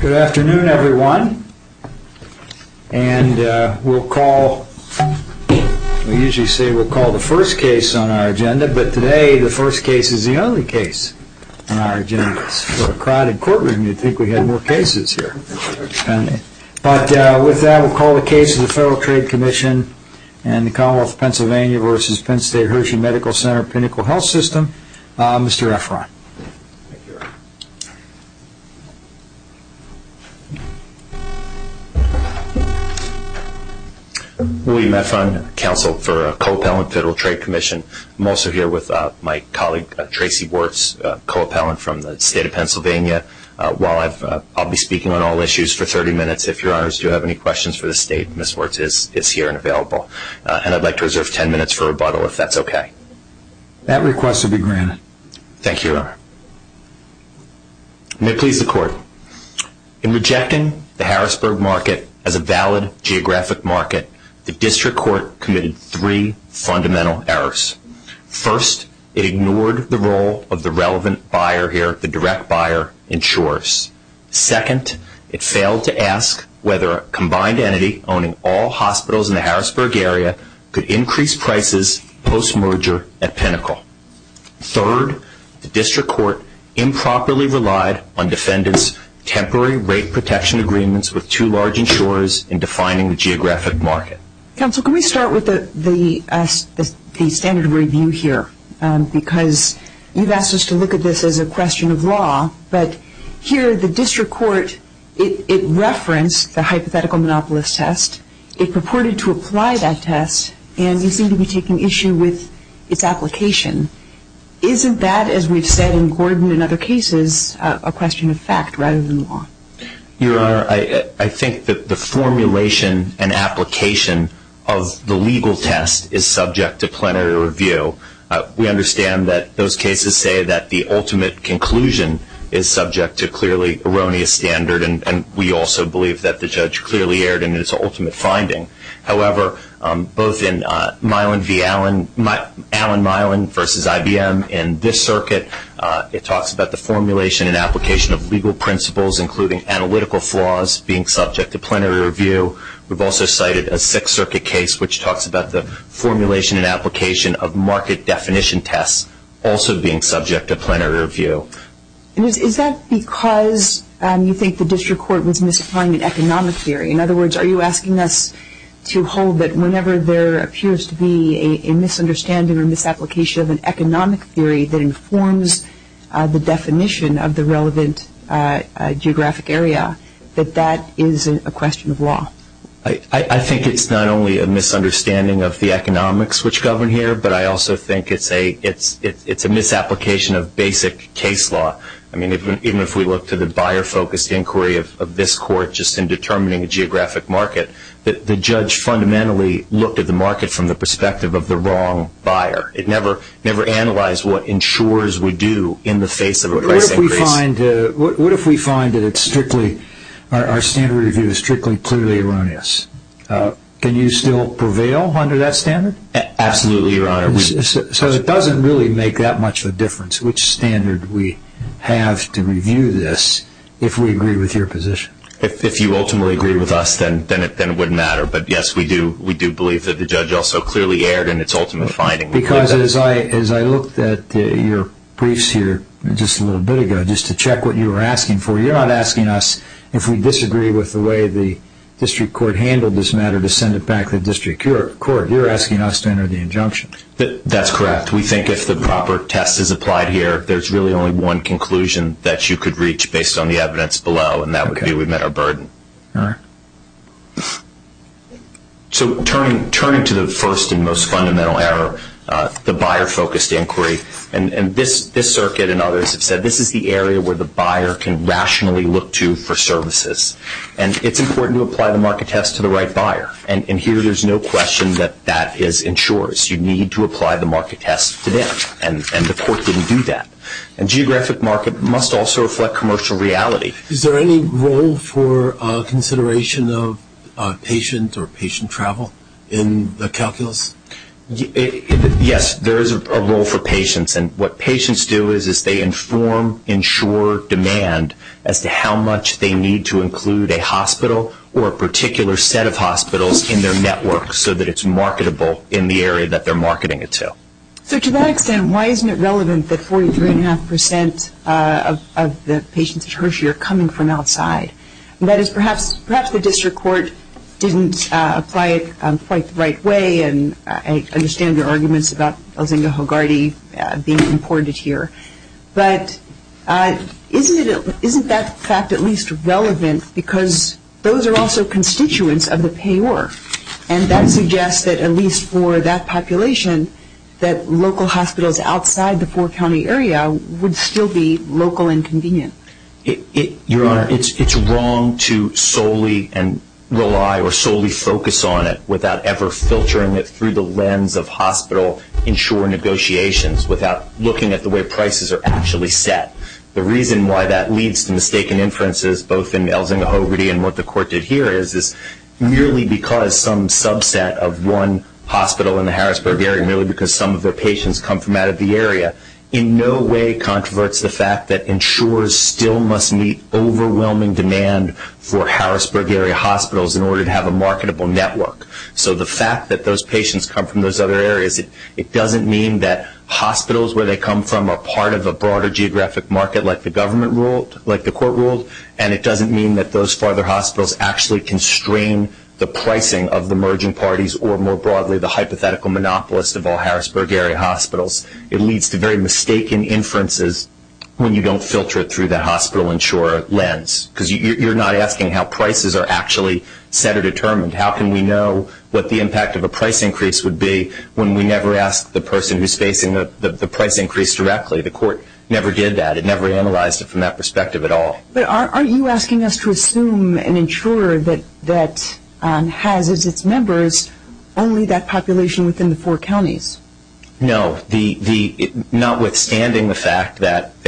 Good afternoon, everyone. And we'll call, we usually say we'll call the first case on our agenda, but today the first case is the only case on our agenda. It's a little crowded courtroom. You'd think we had more cases here. But with that, we'll call the case of the Federal Trade Commission and the Commonwealth of Pennsylvania v. Penn State Hershey Medical Center Clinical Health System, Mr. Efron. Thank you. William Efron, Counsel for Co-Appellant, Federal Trade Commission. I'm also here with my colleague, Tracy Wirtz, Co-Appellant from the State of Pennsylvania. While I'll be speaking on all issues for 30 minutes, if your honors do have any questions for the State, Ms. Wirtz is here and available. And I'd like to reserve 10 minutes for rebuttal, if that's okay. That request will be granted. Thank you, Your Honor. May it please the Court. In rejecting the Harrisburg market as a valid geographic market, the District Court committed three fundamental errors. First, it ignored the role of the relevant buyer here, the direct buyer, insurers. Second, it failed to ask whether a combined entity owning all hospitals in the Harrisburg area could increase prices post-merger at pinnacle. Third, the District Court improperly relied on defendants' temporary rate protection agreements with two large insurers in defining the geographic market. Counsel, can we start with the standard review here? Because you've asked us to look at this as a question of law, but here the District Court, it referenced the hypothetical monopolist test. It purported to apply that test, and you seem to be taking issue with its application. Isn't that, as we've said in Gordon and other cases, a question of fact rather than law? Your Honor, I think that the formulation and application of the legal test is subject to plenary review. We understand that those cases say that the ultimate conclusion is subject to clearly erroneous standard, and we also believe that the judge clearly erred in his ultimate finding. However, both in Allen-Milan v. IBM in this circuit, it talks about the formulation and application of legal principles, including analytical flaws being subject to plenary review. We've also cited a Sixth Circuit case, which talks about the formulation and application of market definition tests also being subject to plenary review. Is that because you think the District Court was misapplying the economic theory? In other words, are you asking us to hold that whenever there appears to be a misunderstanding or misapplication of an economic theory that informs the definition of the relevant geographic area, that that is a question of law? I think it's not only a misunderstanding of the economics which govern here, but I also think it's a misapplication of basic case law. I mean, even if we look to the buyer-focused inquiry of this court just in determining a geographic market, the judge fundamentally looked at the market from the perspective of the wrong buyer. It never analyzed what insurers would do in the face of a perfect case. What if we find that our standard review is strictly clearly erroneous? Can you still prevail under that standard? Absolutely, Your Honor. So it doesn't really make that much of a difference which standard we have to review this if we agree with your position. If you ultimately agree with us, then it wouldn't matter. But, yes, we do believe that the judge also clearly erred in its ultimate finding. Because as I looked at your briefs here just a little bit ago, just to check what you were asking for, you're not asking us if we disagree with the way the District Court handled this matter to send it back to the District Court. You're asking us to enter the injunctions. That's correct. We think if the proper test is applied here, there's really only one conclusion that you could reach based on the evidence below, and that would be we met our burden. All right. So turning to the first and most fundamental error, the buyer-focused inquiry, and this circuit and others have said this is the area where the buyer can rationally look to for services. And it's important to apply the market test to the right buyer. And here there's no question that that is insurers. You need to apply the market test to them, and the court didn't do that. And geographic market must also reflect commercial reality. Is there any role for consideration of patients or patient travel in the calculus? Yes, there is a role for patients. And what patients do is they inform, insure, demand as to how much they need to include a hospital or a particular set of hospitals in their network so that it's marketable in the area that they're marketing it to. So to that extent, why isn't it relevant that 43.5% of the patients at Hershey are coming from outside? That is, perhaps the District Court didn't apply it quite the right way, and I understand their arguments about Elzinga Hogarty being imported here. But isn't that fact at least relevant because those are also constituents of the payor, and that suggests that at least for that population that local hospitals outside the four-county area would still be local and convenient. Your Honor, it's wrong to solely rely or solely focus on it without ever filtering it through the lens of hospital insurer negotiations, without looking at the way prices are actually set. The reason why that leads to mistaken inferences, both in Elzinga Hogarty and what the Court did here, is merely because some subset of one hospital in the Harrisburg area, merely because some of the patients come from out of the area, in no way controverts the fact that insurers still must meet overwhelming demand for Harrisburg area hospitals in order to have a marketable network. So the fact that those patients come from those other areas, it doesn't mean that hospitals where they come from are part of a broader geographic market like the Court ruled, and it doesn't mean that those farther hospitals actually constrain the pricing of the merging parties or more broadly the hypothetical monopolists of all Harrisburg area hospitals. It leads to very mistaken inferences when you don't filter it through the hospital insurer lens because you're not asking how prices are actually set or determined. How can we know what the impact of a price increase would be when we never ask the person who's facing the price increase directly? The Court never did that. It never analyzed it from that perspective at all. But aren't you asking us to assume an insurer that has as its members only that population within the four counties? No, notwithstanding the fact that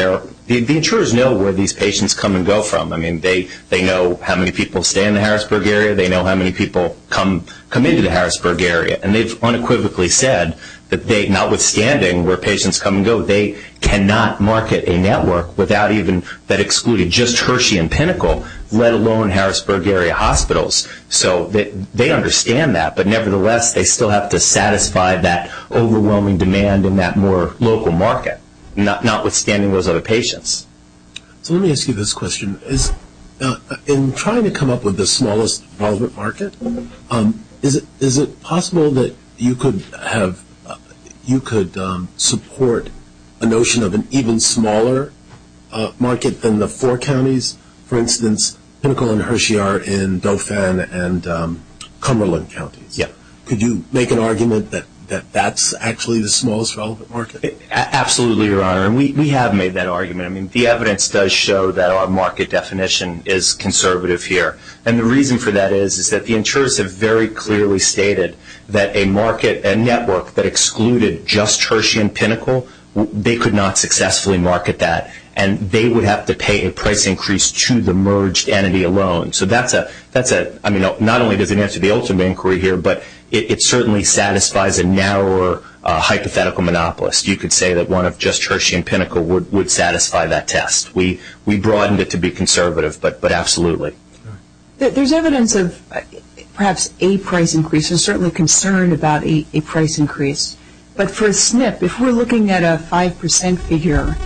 the insurers know where these patients come and go from. I mean, they know how many people stay in the Harrisburg area. They know how many people come into the Harrisburg area, and they've unequivocally said that notwithstanding where patients come and go, they cannot market a network that excluded just Hershey and Pinnacle, let alone Harrisburg area hospitals. They understand that, but nevertheless, they still have to satisfy that overwhelming demand in that more local market, notwithstanding those other patients. Let me ask you this question. In trying to come up with the smallest market, is it possible that you could support a notion of an even smaller market than the four counties? For instance, Pinnacle and Hershey are in Dauphin and Cumberland County. Yes. Could you make an argument that that's actually the smallest relevant market? Absolutely, Your Honor, and we have made that argument. I mean, the evidence does show that our market definition is conservative here, and the reason for that is that the insurers have very clearly stated that a network that excluded just Hershey and Pinnacle, they could not successfully market that, and they would have to pay a price increase to the merged entity alone. So that's a – I mean, not only does it answer the ultimate inquiry here, but it certainly satisfies a narrower hypothetical monopolist. You could say that one of just Hershey and Pinnacle would satisfy that test. We broadened it to be conservative, but absolutely. There's evidence of perhaps a price increase and certainly concern about a price increase, but for Smith, if we're looking at a 5% figure,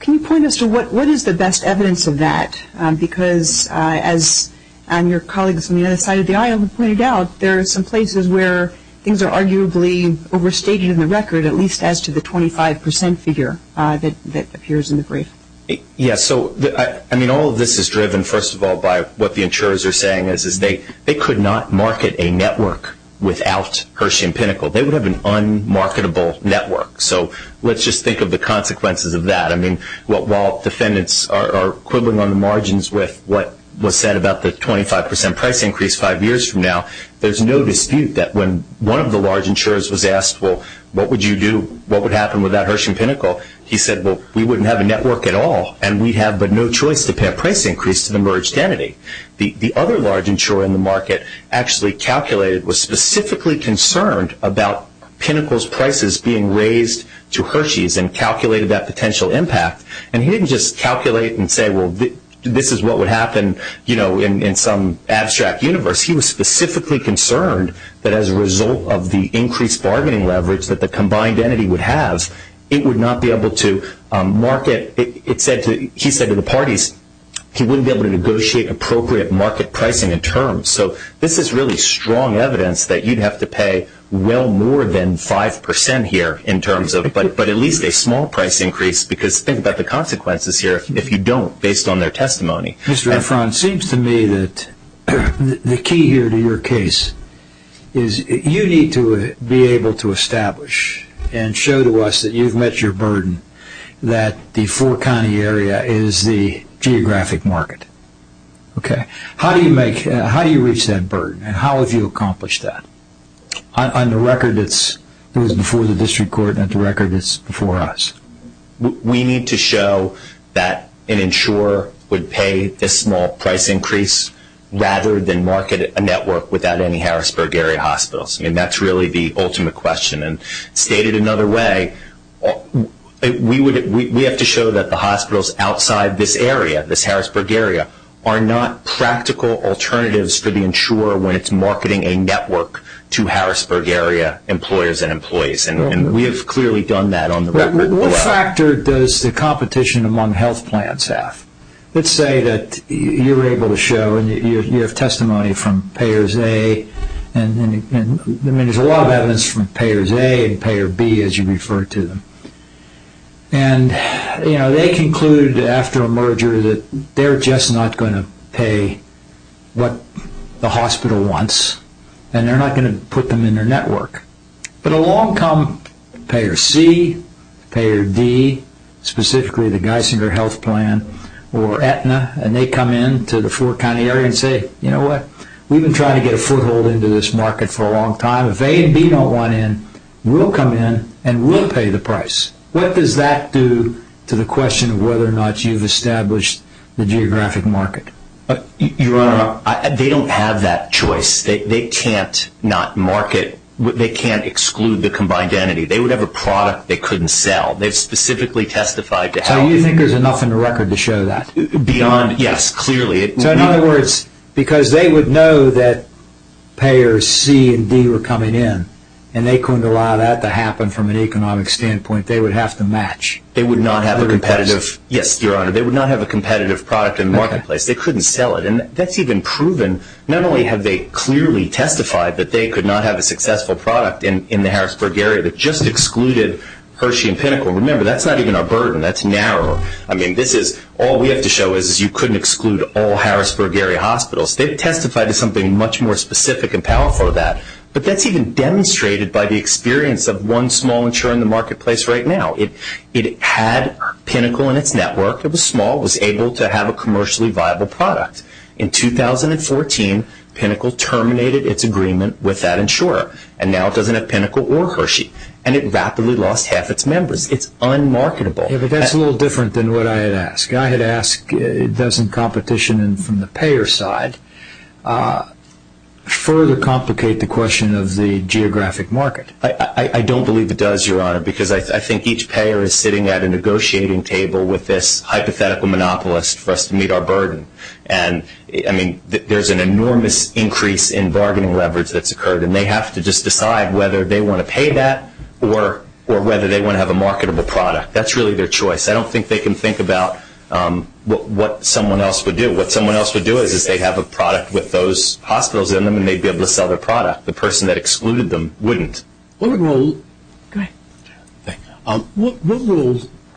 can you point us to what is the best evidence of that? Because as your colleague from the other side of the aisle pointed out, there are some places where things are arguably overstated in the record, at least as to the 25% figure that appears in the brief. Yes. So, I mean, all of this is driven, first of all, by what the insurers are saying, is they could not market a network without Hershey and Pinnacle. They would have an unmarketable network. So let's just think of the consequences of that. I mean, while defendants are quibbling on the margins with what was said about the 25% price increase five years from now, there's no dispute that when one of the large insurers was asked, well, what would you do, what would happen with that Hershey and Pinnacle, he said, well, we wouldn't have a network at all, and we'd have but no choice to pay a price increase to the merged entity. The other large insurer in the market actually calculated, was specifically concerned about Pinnacle's prices being raised to Hershey's and calculated that potential impact, and he didn't just calculate and say, well, this is what would happen, you know, in some abstract universe. He was specifically concerned that as a result of the increased bargaining leverage that the combined entity would have, it would not be able to market. He said to the parties he wouldn't be able to negotiate appropriate market pricing in terms. So this is really strong evidence that you'd have to pay well more than 5% here in terms of but at least a small price increase because think about the consequences here if you don't, based on their testimony. Mr. Efron, it seems to me that the key here to your case is you need to be able to establish and show to us that you've met your burden, that the four-county area is the geographic market, okay? How do you reach that burden, and how have you accomplished that? On the record, it was before the district court, and on the record, it's before us. We need to show that an insurer would pay a small price increase rather than market a network without any Harrisburg area hospitals, and that's really the ultimate question, and stated another way, we have to show that the hospitals outside this area, this Harrisburg area, are not practical alternatives for the insurer when it's marketing a network to Harrisburg area employers and employees, and we have clearly done that on the record. What factor does the competition among health plans have? Let's say that you're able to show and you have testimony from payers A, and there's a lot of evidence from payers A and payers B as you refer to them, and they conclude after a merger that they're just not going to pay what the hospital wants, and they're not going to put them in their network. But along come payers C, payers D, specifically the Geisinger Health Plan or Aetna, and they come in to the four-county area and say, you know what? We've been trying to get a foothold into this market for a long time. If A and B don't want in, we'll come in and we'll pay the price. What does that do to the question of whether or not you've established the geographic market? Your Honor, they don't have that choice. They can't not market. They can't exclude the combined entity. They would have a product they couldn't sell. They've specifically testified to health. So you think there's enough in the record to show that? Beyond, yes, clearly. So in other words, because they would know that payers C and D were coming in, and they couldn't allow that to happen from an economic standpoint, they would have to match. They would not have a competitive, yes, Your Honor, they would not have a competitive product in the marketplace. They couldn't sell it. And that's even proven not only have they clearly testified that they could not have a successful product in the Harrisburg area that just excluded Hershey and Pinnacle. Remember, that's not even our burden. That's narrow. I mean, this is all we have to show is you couldn't exclude all Harrisburg area hospitals. They've testified to something much more specific and powerful than that. But that's even demonstrated by the experience of one small insurer in the marketplace right now. It had Pinnacle in its network of a small, was able to have a commercially viable product. In 2014, Pinnacle terminated its agreement with that insurer. And now it doesn't have Pinnacle or Hershey. And it rapidly lost half its members. It's unmarketable. Yeah, but that's a little different than what I had asked. I had asked, doesn't competition from the payer side further complicate the question of the geographic market? I don't believe it does, Your Honor, because I think each payer is sitting at a negotiating table with this hypothetical monopolist for us to meet our burden. And, I mean, there's an enormous increase in bargaining leverage that's occurred. And they have to just decide whether they want to pay that or whether they want to have a marketable product. That's really their choice. I don't think they can think about what someone else would do. What someone else would do is they'd have a product with those hospitals in them, and they'd be able to sell their product. The person that excluded them wouldn't. What role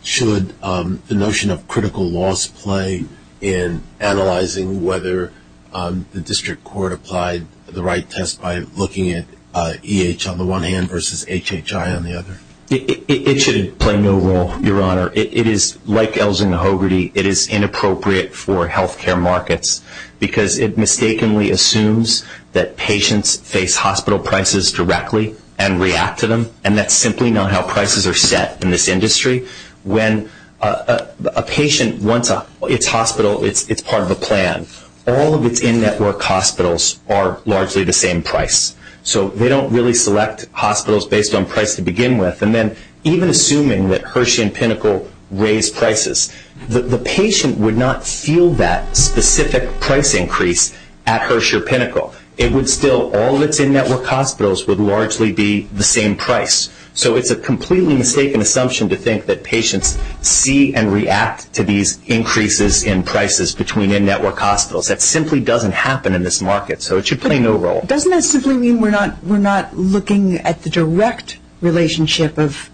should the notion of critical loss play in analyzing whether the district court applied the right test by looking at EH on the one hand versus HHI on the other? It should play no role, Your Honor. It is, like Elzinga-Hogarty, it is inappropriate for health care markets because it mistakenly assumes that patients face hospital prices directly and react to them, and that's simply not how prices are set in this industry. When a patient wants its hospital, it's part of a plan. All of its in-network hospitals are largely the same price. So, they don't really select hospitals based on price to begin with. And then, even assuming that Hershey and Pinnacle raise prices, the patient would not feel that specific price increase at Hershey or Pinnacle. It would still, all of its in-network hospitals would largely be the same price. So, it's a completely mistaken assumption to think that patients see and react to these increases in prices between in-network hospitals. That simply doesn't happen in this market, so it should play no role. Doesn't that simply mean we're not looking at the direct relationship of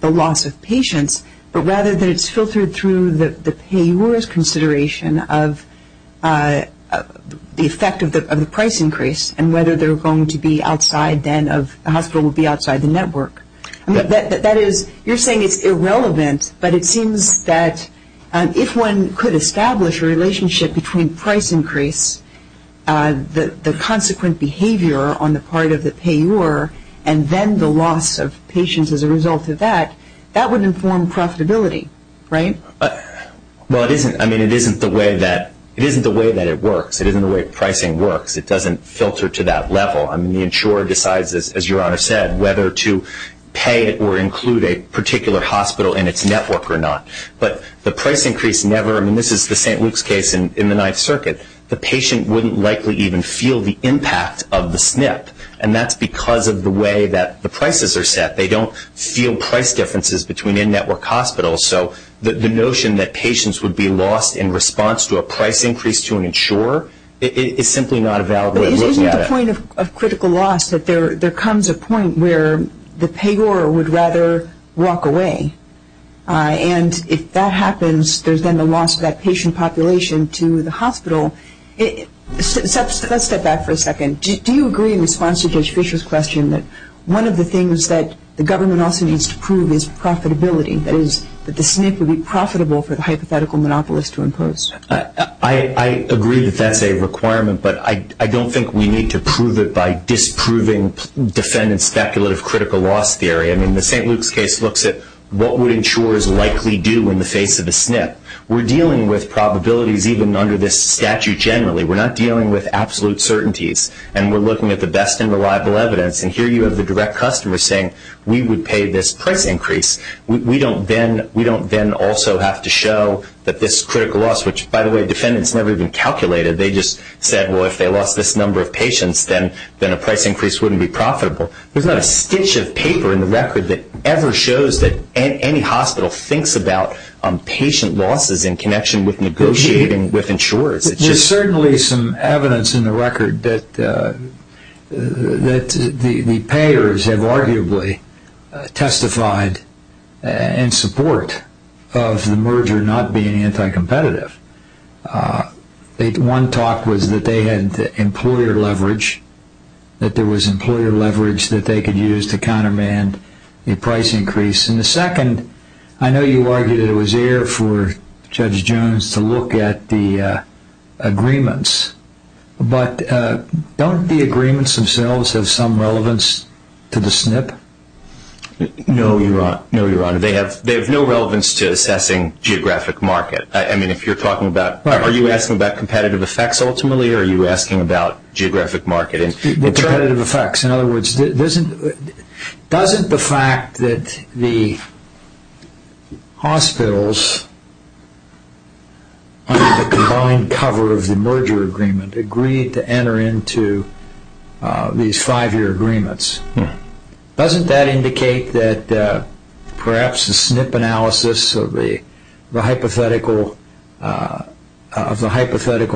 the loss of patients, but rather that it's filtered through the payor's consideration of the effect of the price increase and whether they're going to be outside then of a hospital will be outside the network? You're saying it's irrelevant, but it seems that if one could establish a relationship between price increase, the consequent behavior on the part of the payor, and then the loss of patients as a result of that, that would inform profitability, right? Well, I mean, it isn't the way that it works. It isn't the way pricing works. It doesn't filter to that level. I mean, the insurer decides, as Your Honor said, whether to pay or include a particular hospital in its network or not. But the price increase never, and this is the St. Luke's case in the Ninth Circuit, the patient wouldn't likely even feel the impact of the SNF, and that's because of the way that the prices are set. They don't feel price differences between in-network hospitals, so the notion that patients would be lost in response to a price increase to an insurer, it's simply not a valid way of looking at it. But isn't the point of critical loss that there comes a point where the payor would rather walk away? And if that happens, there's then the loss of that patient population to the hospital. Let's step back for a second. Do you agree in response to Judge Fischer's question that one of the things that the government also needs to prove is profitability, that is that the SNF would be profitable for the hypothetical monopolist to impose? I agree that that's a requirement, but I don't think we need to prove it by disproving defendant's speculative critical loss theory. I mean, the St. Luke's case looks at what would insurers likely do in the face of the SNF. We're dealing with probabilities even under this statute generally. We're not dealing with absolute certainties, and we're looking at the best and reliable evidence. And here you have the direct customer saying, we would pay this price increase. We don't then also have to show that this critical loss, which by the way defendants never even calculated. They just said, well, if they lost this number of patients, then a price increase wouldn't be profitable. There's not a stitch of paper in the record that ever shows that any hospital thinks about patient losses in connection with negotiating with insurers. There's certainly some evidence in the record that the payers have arguably testified in support of the merger not being anti-competitive. One talk was that they had employer leverage, that there was employer leverage that they could use to countermand a price increase. And the second, I know you argued it was air for Judge Jones to look at the agreements, but don't the agreements themselves have some relevance to the SNF? No, Your Honor. They have no relevance to assessing geographic market. I mean, if you're talking about, are you asking about competitive effects ultimately, or are you asking about geographic market? Competitive effects. In other words, doesn't the fact that the hospitals under the combined cover of the merger agreement agree to enter into these five-year agreements, doesn't that indicate that perhaps a SNF analysis of the hypothetical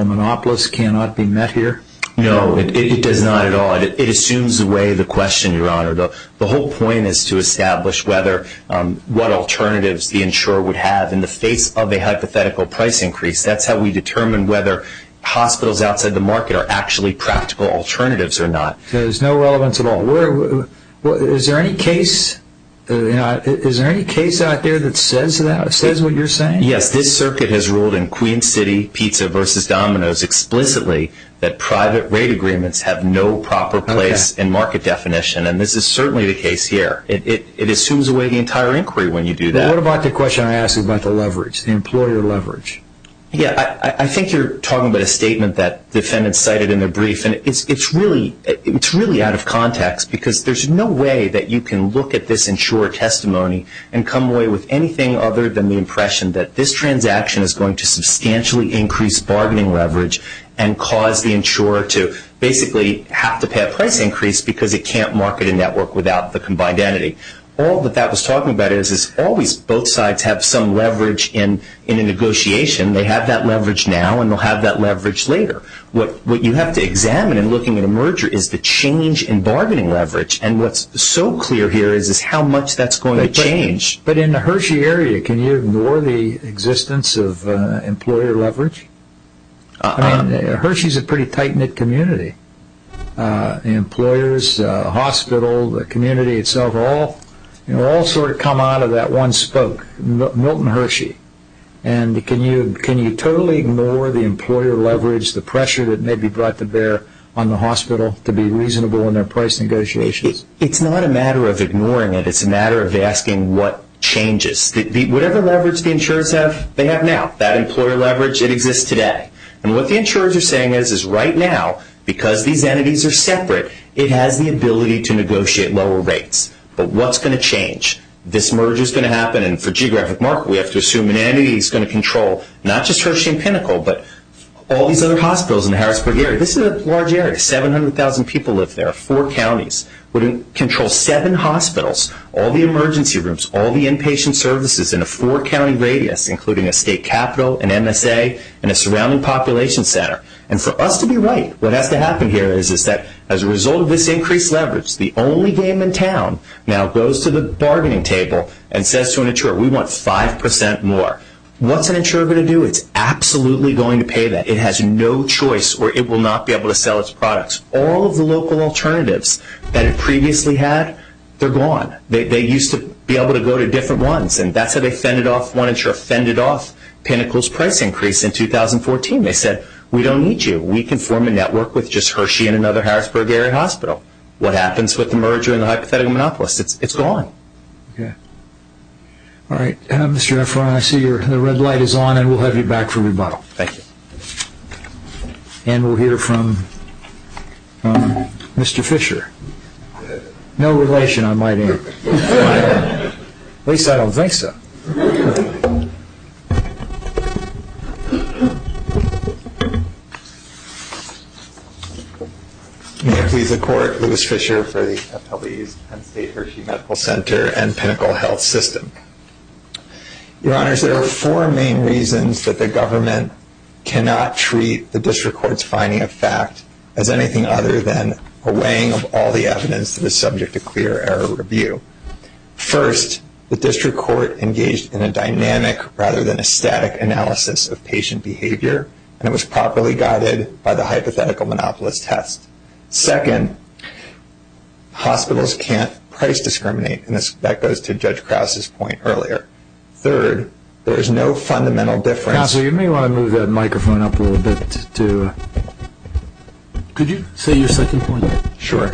monopolist cannot be met here? It assumes away the question, Your Honor. The whole point is to establish what alternatives the insurer would have in the face of a hypothetical price increase. That's how we determine whether hospitals outside the market are actually practical alternatives or not. There's no relevance at all. Is there any case out there that says that, that says what you're saying? Yes, this circuit has ruled in Queen City Pizza versus Domino's explicitly that private rate agreements have no proper place in market definition, and this is certainly the case here. It assumes away the entire inquiry when you do that. What about the question I asked about the leverage, the employer leverage? Yeah, I think you're talking about a statement that the defendant cited in the brief, and it's really out of context because there's no way that you can look at this insurer testimony and come away with anything other than the impression that this transaction is going to substantially increase bargaining leverage and cause the insurer to basically have to pay a price increase because it can't market a network without the combined entity. All that that was talking about is always both sides have some leverage in a negotiation. They have that leverage now, and they'll have that leverage later. What you have to examine in looking at a merger is the change in bargaining leverage, and what's so clear here is how much that's going to change. But in the Hershey area, can you ignore the existence of employer leverage? I mean, Hershey's a pretty tight-knit community. The employers, the hospital, the community itself, all sort of come out of that one spoke, Milton Hershey. And can you totally ignore the employer leverage, the pressure that may be brought to bear on the hospital to be reasonable in their price negotiations? It's not a matter of ignoring it. It's a matter of asking what changes. Whatever leverage the insurers have, they have now. That employer leverage, it exists today. And what the insurers are saying is, is right now, because these entities are separate, it has the ability to negotiate lower rates. But what's going to change? This merger is going to happen, and for geographic market, we have to assume an entity is going to control not just Hershey and Pinnacle, but all these other hospitals in the Harrisburg area. This is a large area. 700,000 people live there, four counties. We're going to control seven hospitals, all the emergency rooms, all the inpatient services in a four-county radius, including a state capital, an MSA, and a surrounding population center. And for us to be right, what has to happen here is that as a result of this increased leverage, the only game in town now goes to the bargaining table and says to an insurer, we want 5% more. What's an insurer going to do? It's absolutely going to pay that. It has no choice or it will not be able to sell its products. All of the local alternatives that it previously had, they're gone. They used to be able to go to different ones, and that's how they send it off. One insurer send it off. Pinnacle's price increased in 2014. They said, we don't need you. We can form a network with just Hershey and another Harrisburg area hospital. What happens with the merger and the hypothetical monopolist? It's gone. All right. Mr. Efron, I see the red light is on, and we'll have you back for rebuttal. Thank you. And we'll hear from Mr. Fischer. No relation on my name. At least I don't think so. He's a court. He was Fischer for the FSU Hershey Medical Center and Pinnacle Health System. Your Honors, there are four main reasons that the government cannot treat the district court's finding of fact as anything other than a weighing of all the evidence that is subject to clear error review. First, the district court engaged in a dynamic rather than a static analysis of patient behavior, and it was properly guided by the hypothetical monopolist test. Second, hospitals can't price discriminate, and that goes to Judge Krause's point earlier. Third, there's no fundamental difference. Counsel, you may want to move that microphone up a little bit. Could you say your second point? Sure.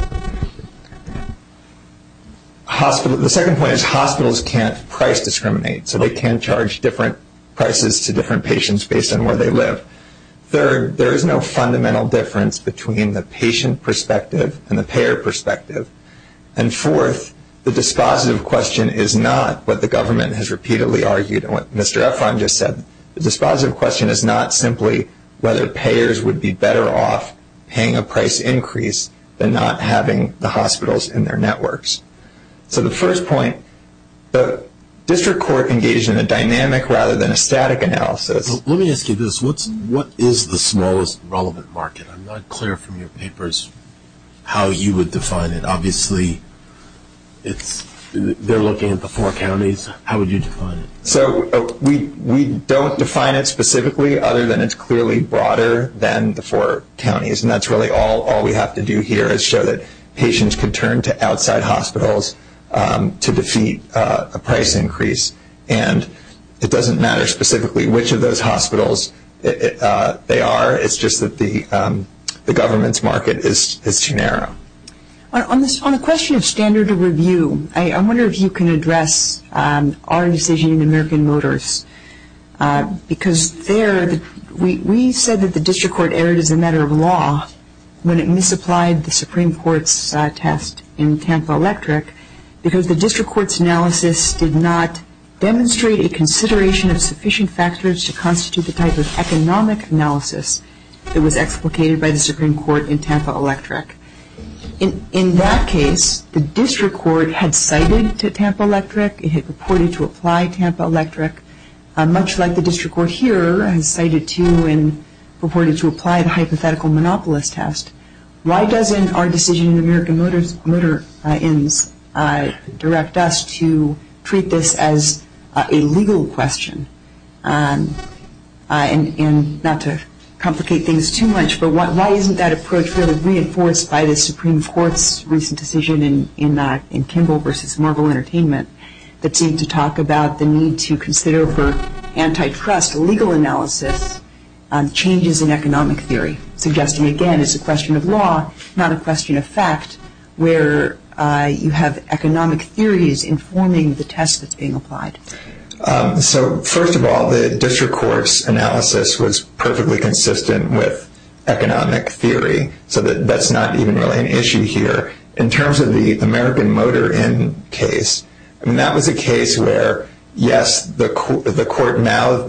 The second point is hospitals can't price discriminate, so they can charge different prices to different patients based on where they live. Third, there is no fundamental difference between the patient perspective and the payer perspective. And fourth, the dispositive question is not what the government has repeatedly argued and what Mr. Efron just said. The dispositive question is not simply whether payers would be better off paying a price increase than not having the hospitals in their networks. So the first point, the district court engaged in a dynamic rather than a static analysis. Let me ask you this. What is the smallest relevant market? I'm not clear from your papers how you would define it. Obviously, they're looking at the four counties. How would you define it? So we don't define it specifically other than it's clearly broader than the four counties, and that's really all we have to do here is show that patients can turn to outside hospitals to defeat a price increase. And it doesn't matter specifically which of those hospitals they are. It's just that the government's market is too narrow. On the question of standard of review, I wonder if you can address our decision in American Motors, because there we said that the district court erred as a matter of law when it misapplied the Supreme Court's test in Tampa Electric because the district court's analysis did not demonstrate a consideration of sufficient factors to constitute the type of economic analysis that was explicated by the Supreme Court in Tampa Electric. In that case, the district court had cited Tampa Electric. It had reported to apply Tampa Electric much like the district court here and cited to and reported to apply a hypothetical monopolist test. Why doesn't our decision in American Motors direct us to treat this as a legal question? And not to complicate things too much, but why isn't that approach reinforced by the Supreme Court's recent decision in Kimball v. Norval Entertainment that seemed to talk about the need to consider for antitrust legal analysis changes in economic theory, suggesting again it's a question of law, not a question of facts, where you have economic theories informing the test that's being applied? First of all, the district court's analysis was perfectly consistent with economic theory, so that's not even really an issue here. In terms of the American Motor case, that was a case where, yes, the court now,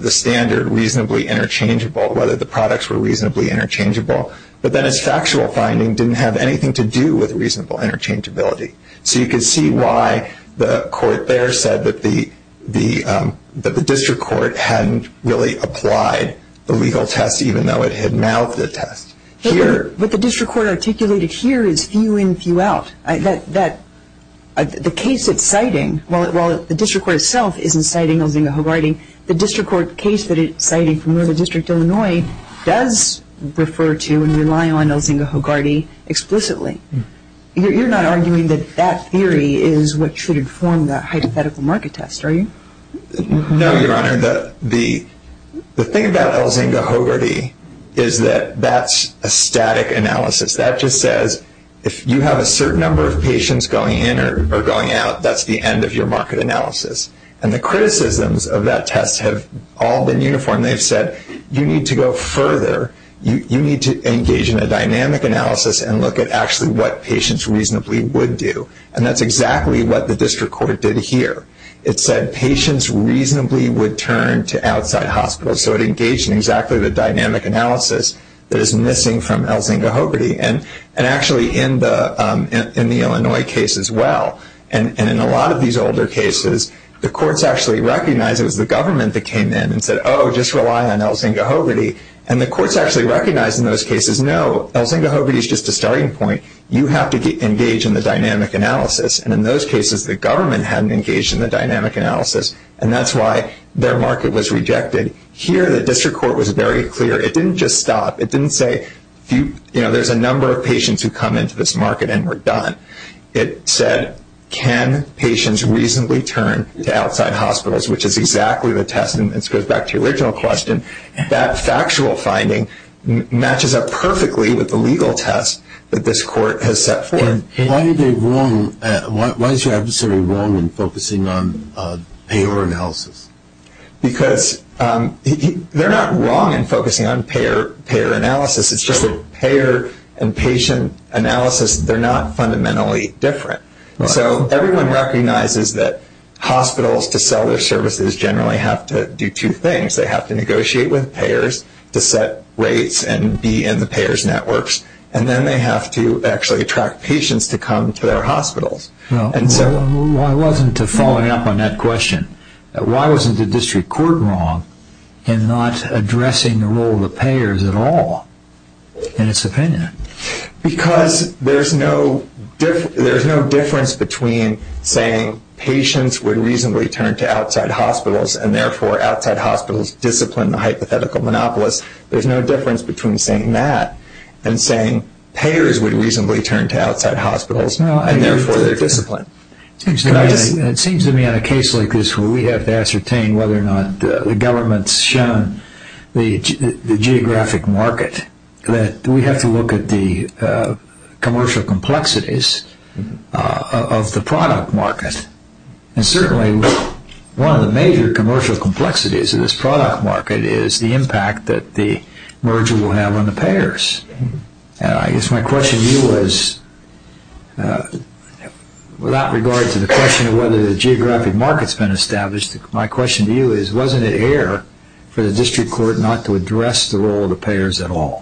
whether the products were reasonably interchangeable, but then a factual finding didn't have anything to do with reasonable interchangeability. So you can see why the court there said that the district court hadn't really applied the legal test, even though it had now put a test here. What the district court articulated here is few in, few out. The case it's citing, while the district court itself isn't citing Elzinga-Hogarty, the district court case that it's citing from the District of Illinois does refer to and rely on Elzinga-Hogarty explicitly. You're not arguing that that theory is what should inform the hypothetical market test, are you? No, Your Honor. The thing about Elzinga-Hogarty is that that's a static analysis. That just says if you have a certain number of patients going in or going out, that's the end of your market analysis. And the criticisms of that test have all been uniform. They've said you need to go further. You need to engage in a dynamic analysis and look at actually what patients reasonably would do, and that's exactly what the district court did here. It said patients reasonably would turn to outside hospitals, so it engaged in exactly the dynamic analysis that is missing from Elzinga-Hogarty, and actually in the Illinois case as well. And in a lot of these older cases, the courts actually recognized it was the government that came in and said, oh, just rely on Elzinga-Hogarty, and the courts actually recognized in those cases, no, Elzinga-Hogarty is just a starting point. You have to engage in the dynamic analysis, and in those cases, the government hadn't engaged in the dynamic analysis, and that's why their market was rejected. Here, the district court was very clear. It didn't just stop. It didn't say, you know, there's a number of patients who come into this market and we're done. It said, can patients reasonably turn to outside hospitals, which is exactly the test. And this goes back to your original question. That factual finding matches up perfectly with the legal test that this court has set forth. Why is your adversary wrong in focusing on payer analysis? Because they're not wrong in focusing on payer analysis. It's just that payer and patient analysis, they're not fundamentally different. So everyone recognizes that hospitals to sell their services generally have to do two things. They have to negotiate with payers to set rates and be in the payers' networks, and then they have to actually attract patients to come to their hospitals. Why wasn't the following up on that question, why wasn't the district court wrong in not addressing the role of the payers at all in its opinion? Because there's no difference between saying patients would reasonably turn to outside hospitals and, therefore, outside hospitals discipline the hypothetical monopolist. There's no difference between saying that and saying payers would reasonably turn to outside hospitals, and, therefore, they're disciplined. And it seems to me in a case like this where we have to ascertain whether or not the government's shown the geographic market, that we have to look at the commercial complexities of the product market. And, certainly, one of the major commercial complexities of this product market is the impact that the merger will have on the payers. I guess my question to you is, without regard to the question of whether the geographic market's been established, my question to you is, wasn't it air for the district court not to address the role of the payers at all?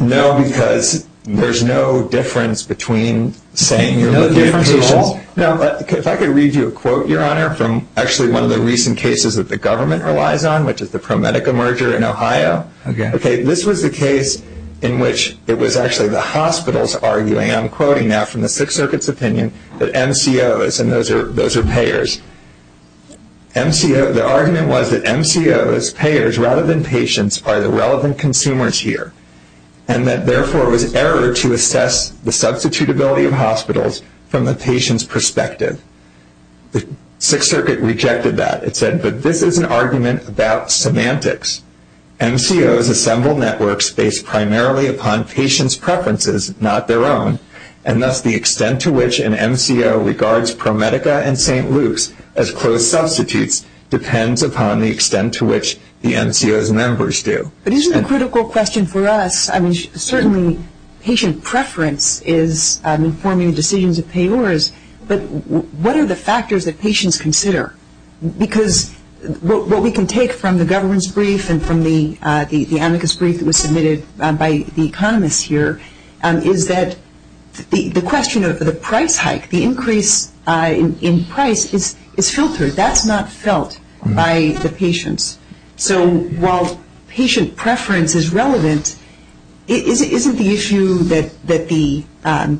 No, because there's no difference between saying you're looking at patients. No difference at all. Now, if I could read you a quote, Your Honor, from actually one of the recent cases that the government relies on, which is the ProMedica merger in Ohio. Okay. This was a case in which it was actually the hospitals arguing, and I'm quoting now from the Fifth Circuit's opinion, that MCOs, and those are payers, the argument was that MCOs, payers, rather than patients, are the relevant consumers here, and that, therefore, it was error to assess the substitutability of hospitals from a patient's perspective. The Sixth Circuit rejected that. It said, but this is an argument about semantics. MCOs assemble networks based primarily upon patients' preferences, not their own, and thus the extent to which an MCO regards ProMedica and St. Luke's as closed substitutes depends upon the extent to which the MCO's members do. But isn't the critical question for us, I mean, certainly patient preference is informing decisions of payers, but what are the factors that patients consider? Because what we can take from the government's brief and from the amicus brief that was submitted by the economists here, is that the question of the price hike, the increase in price, is filtered. That's not felt by the patients. So while patient preference is relevant, isn't the issue that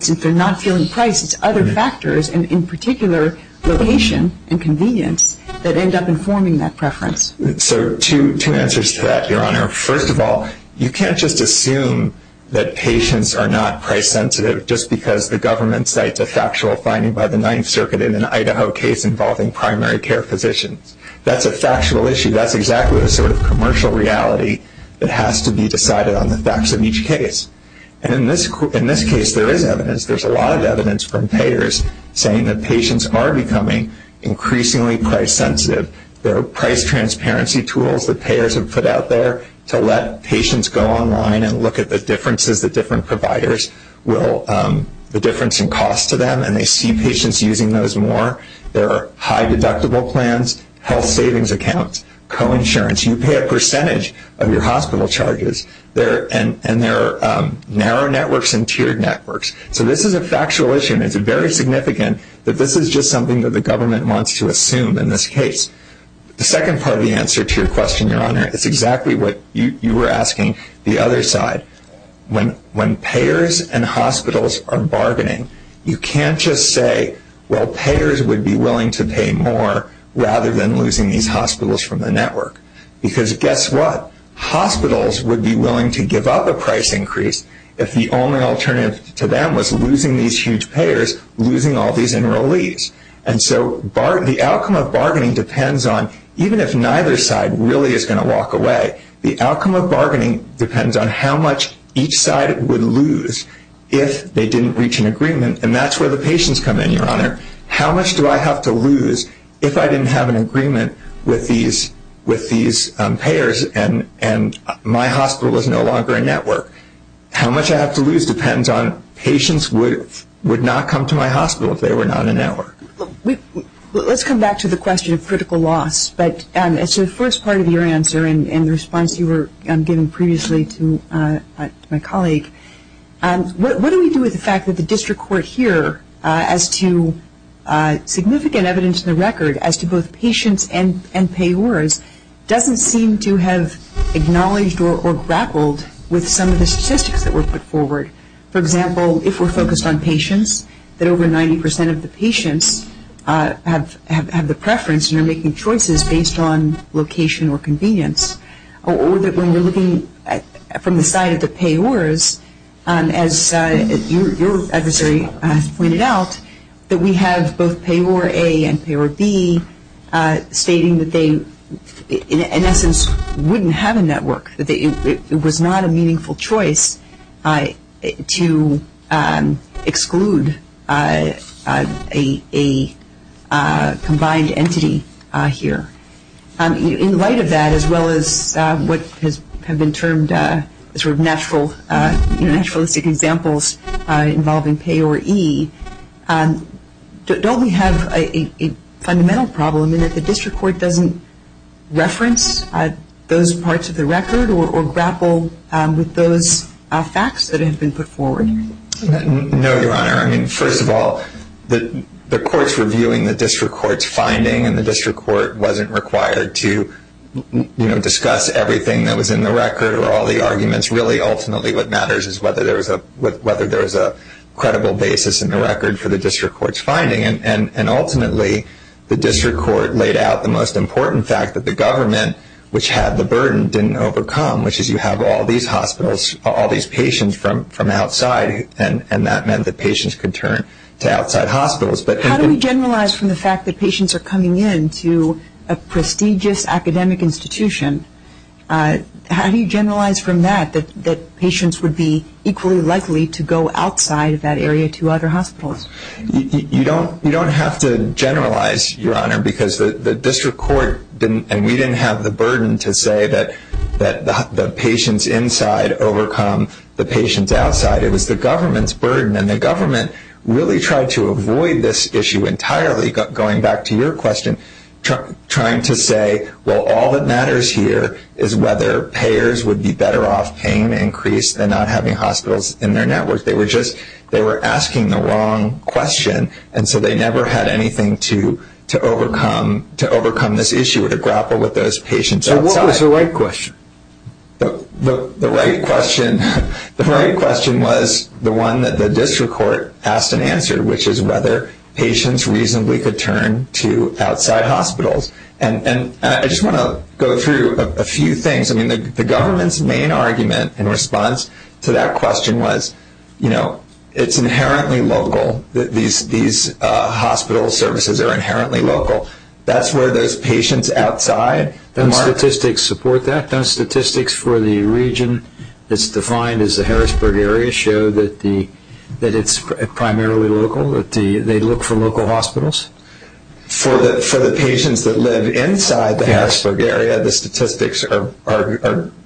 since they're not feeling price, it's other factors, and in particular, location and convenience, that end up informing that preference? So two answers to that, Your Honor. First of all, you can't just assume that patients are not price sensitive just because the government cites a factual finding by the Ninth Circuit in an Idaho case involving primary care physicians. That's a factual issue. That's exactly the sort of commercial reality that has to be decided on the facts of each case. And in this case, there is evidence. There's a lot of evidence from payers saying that patients are becoming increasingly price sensitive. There are price transparency tools that payers have put out there to let patients go online and look at the differences that different providers will, the difference in cost to them, and they see patients using those more. There are high deductible plans, health savings accounts, co-insurance. You pay a percentage of your hospital charges. And there are narrow networks and tiered networks. So this is a factual issue, and it's very significant that this is just something that the government wants to assume in this case. The second part of the answer to your question, Your Honor, is exactly what you were asking the other side. When payers and hospitals are bargaining, you can't just say, well, payers would be willing to pay more rather than losing these hospitals from the network. Because guess what? Hospitals would be willing to give up a price increase if the only alternative to them was losing these huge payers, losing all these enrollees. And so the outcome of bargaining depends on, even if neither side really is going to walk away, the outcome of bargaining depends on how much each side would lose if they didn't reach an agreement. And that's where the patients come in, Your Honor. How much do I have to lose if I didn't have an agreement with these payers and my hospital is no longer a network? How much I have to lose depends on patients would not come to my hospital if they were not in the network. Let's come back to the question of critical loss. So the first part of your answer in response you were giving previously to my colleague, what do we do with the fact that the district court here, as to significant evidence in the record, as to both patients and payors, doesn't seem to have acknowledged or grappled with some of the statistics that were put forward. For example, if we're focused on patients, that over 90% of the patients have the preference and are making choices based on location or convenience. Or that when we're looking from the side of the payors, as your adversary has pointed out, that we have both Payor A and Payor B stating that they, in essence, wouldn't have a network, that it was not a meaningful choice to exclude a combined entity here. In light of that, as well as what has been termed sort of naturalistic examples involving Payor E, don't we have a fundamental problem in that the district court doesn't reference those parts of the record or grapple with those facts that have been put forward? No, Your Honor. I mean, first of all, the courts were viewing the district court's finding, and the district court wasn't required to discuss everything that was in the record or all the arguments. Really, ultimately, what matters is whether there's a credible basis in the record for the district court's finding. And ultimately, the district court laid out the most important fact that the government, which had the burden, didn't overcome, which is you have all these hospitals, all these patients from outside, and that meant that patients could turn to outside hospitals. How do we generalize from the fact that patients are coming in to a prestigious academic institution? How do you generalize from that that patients would be equally likely to go outside of that area to other hospitals? You don't have to generalize, Your Honor, because the district court didn't, and we didn't have the burden to say that the patients inside overcome the patients outside. It was the government's burden, and the government really tried to avoid this issue entirely, going back to your question, trying to say, well, all that matters here is whether payers would be better off paying the increase and not having hospitals in their networks. They were just asking the wrong question, and so they never had anything to overcome this issue to grapple with those patients outside. So what was the right question? The right question was the one that the district court asked and answered, which is whether patients reasonably could turn to outside hospitals. And I just want to go through a few things. I mean, the government's main argument in response to that question was, you know, it's inherently local. These hospital services are inherently local. That's where those patients outside, the statistics support that. The statistics for the region that's defined as the Harrisburg area show that it's primarily local. They look for local hospitals. For the patients that live inside the Harrisburg area, the statistics are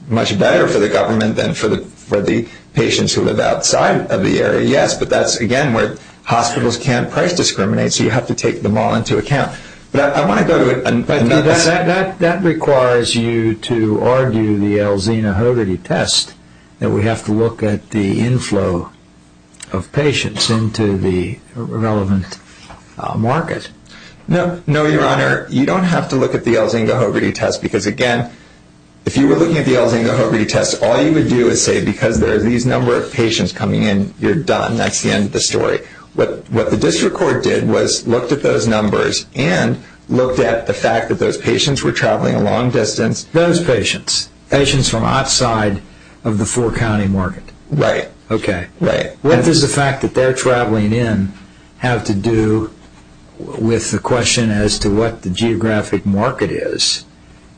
much better for the government than for the patients who live outside of the area, yes, but that's, again, where hospitals can't price discriminate, so you have to take them all into account. That requires you to argue the Alzheimer-Hodgkin test, that we have to look at the inflow of patients into the relevant market. No, Your Honor, you don't have to look at the Alzheimer-Hodgkin test, because, again, if you were looking at the Alzheimer-Hodgkin test, all you would do is say because there are these number of patients coming in, you're done, that's the end of the story. What the district court did was looked at those numbers and looked at the fact that those patients were traveling a long distance. Those patients, patients from outside of the four-county market. Right. Okay. Right. What does the fact that they're traveling in have to do with the question as to what the geographic market is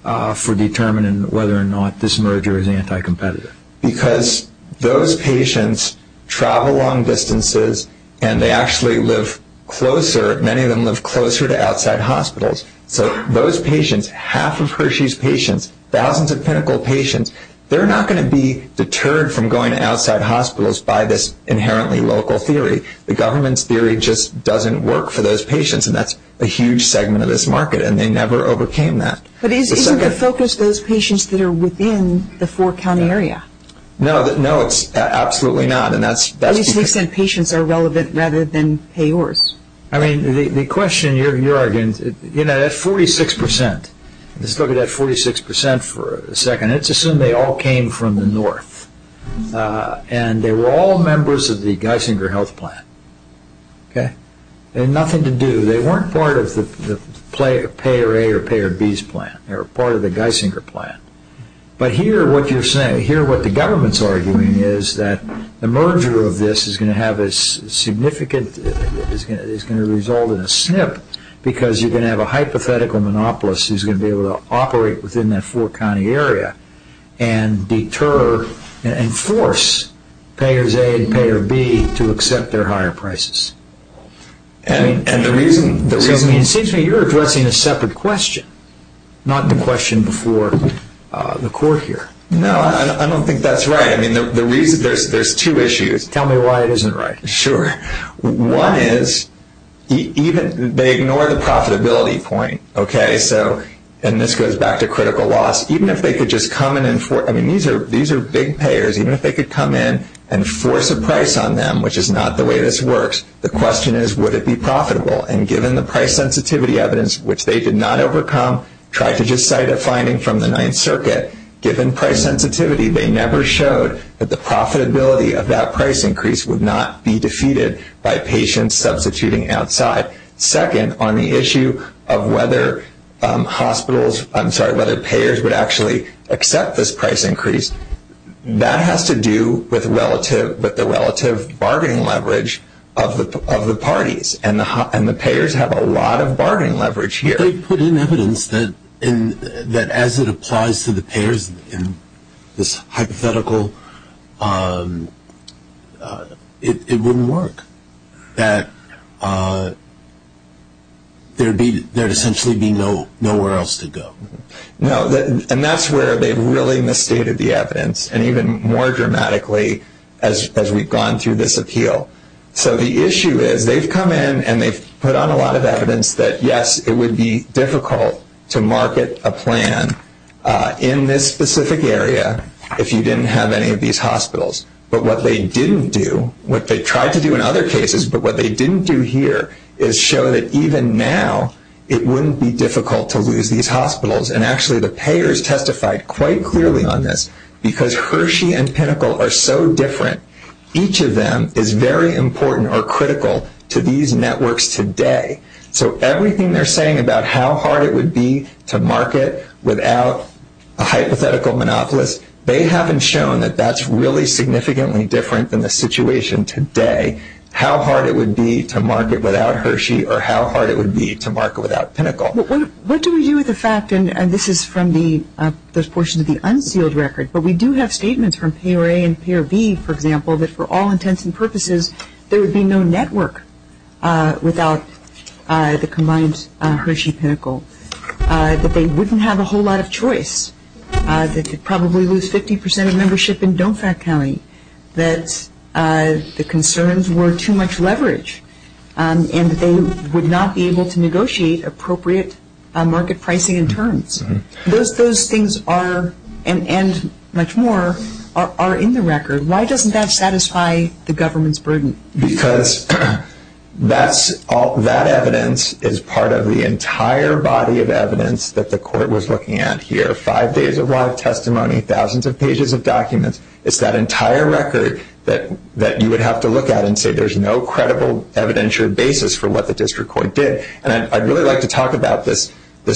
for determining whether or not this merger is anti-competitive? Because those patients travel long distances and they actually live closer, many of them live closer to outside hospitals. So those patients, half of Hershey's patients, thousands of clinical patients, they're not going to be deterred from going to outside hospitals by this inherently local theory. The government's theory just doesn't work for those patients, and that's a huge segment of this market, and they never overcame that. But isn't the focus those patients that are within the four-county area? No, it's absolutely not. At least they said patients are relevant rather than payors. I mean the question you're arguing, you know, that 46 percent, let's look at that 46 percent for a second, let's assume they all came from the north and they were all members of the Geisinger health plan. Okay. They had nothing to do. They weren't part of the payor A or payor B's plan. They were part of the Geisinger plan. But here what you're saying, here what the government's arguing is that the merger of this is going to have a significant, it's going to result in a snip because you're going to have a hypothetical monopolist who's going to be able to operate within that four-county area and deter and force payors A and payor B to accept their higher prices. It seems to me you're addressing a separate question, not the question for the court here. No, I don't think that's right. I mean there's two issues. Tell me why it isn't right. Sure. One is they ignore the profitability point, okay, and this goes back to critical loss. I mean these are big payors. Even if they could come in and force a price on them, which is not the way this works, the question is would it be profitable? And given the price sensitivity evidence, which they did not overcome, tried to just start a finding from the Ninth Circuit, given price sensitivity, they never showed that the profitability of that price increase would not be defeated by patients substituting outside. Second, on the issue of whether hospitals, I'm sorry, whether payors would actually accept this price increase, that has to do with the relative bargaining leverage of the parties, and the payors have a lot of bargaining leverage here. They put in evidence that as it applies to the payors in this hypothetical, it wouldn't work, that there would essentially be nowhere else to go. And that's where they really misstated the evidence, and even more dramatically as we've gone through this appeal. So the issue is they've come in and they've put on a lot of evidence that, yes, it would be difficult to market a plan in this specific area if you didn't have any of these hospitals. But what they didn't do, what they tried to do in other cases, but what they didn't do here is show that even now it wouldn't be difficult to lose these hospitals, and actually the payors testified quite cruelly on this because Hershey and Pinnacle are so different. Each of them is very important or critical to these networks today. So everything they're saying about how hard it would be to market without a hypothetical monopolist, they haven't shown that that's really significantly different than the situation today. They're saying how hard it would be to market without Hershey or how hard it would be to market without Pinnacle. What do we do with the fact, and this is from this portion of the unsealed record, but we do have statements from PRA and PRB, for example, that for all intents and purposes, there would be no network without the combined Hershey-Pinnacle, that they wouldn't have a whole lot of choice, that they'd probably lose 50% of membership in Domefac County, that the concerns were too much leverage, and they would not be able to negotiate appropriate market pricing and terms. Those things are, and much more, are in the record. Why doesn't that satisfy the government's burden? Because that evidence is part of the entire body of evidence that the court was looking at here, and it's that entire record that you would have to look at and say there's no credible evidentiary basis for what the district court did. And I'd really like to talk about this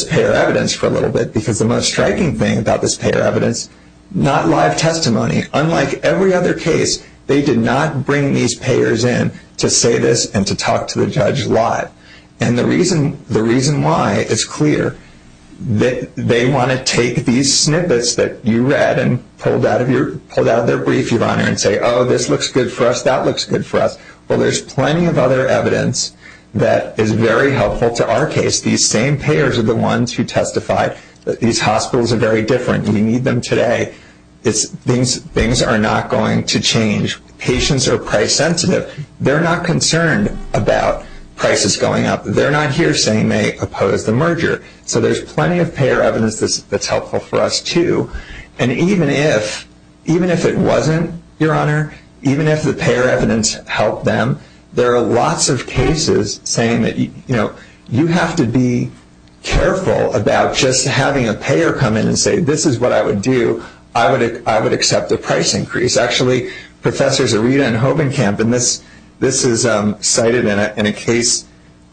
payer evidence for a little bit, because the most striking thing about this payer evidence, not live testimony. Unlike every other case, they did not bring these payers in to say this and to talk to the judge live. And the reason why, it's clear, they want to take these snippets that you read and pulled out of their brief, Yvonne, and say, oh, this looks good for us, that looks good for us. Well, there's plenty of other evidence that is very helpful to our case. These same payers are the ones who testify that these hospitals are very different. We need them today. Things are not going to change. Patients are price sensitive. They're not concerned about prices going up. They're not here saying they oppose the merger. So there's plenty of payer evidence that's helpful for us too. And even if it wasn't, Your Honor, even if the payer evidence helped them, there are lots of cases saying that you have to be careful about just having a payer come in and say, this is what I would do, I would accept a price increase. Actually, Professors Arita and Hovenkamp, and this was cited in a case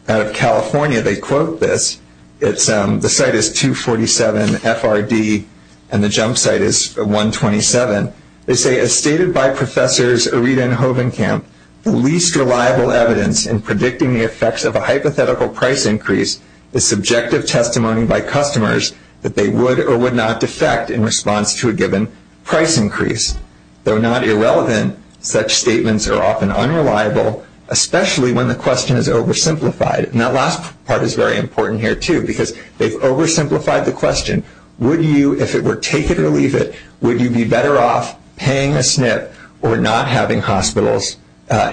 out of California. They quote this. The site is 247 FRD and the jump site is 127. They say, as stated by Professors Arita and Hovenkamp, the least reliable evidence in predicting the effects of a hypothetical price increase is subjective testimony by customers that they would or would not defect in response to a given price increase. Though not irrelevant, such statements are often unreliable, especially when the question is oversimplified. And that last part is very important here too because they've oversimplified the question. Would you, if it were take it or leave it, would you be better off paying a SNP or not having hospitals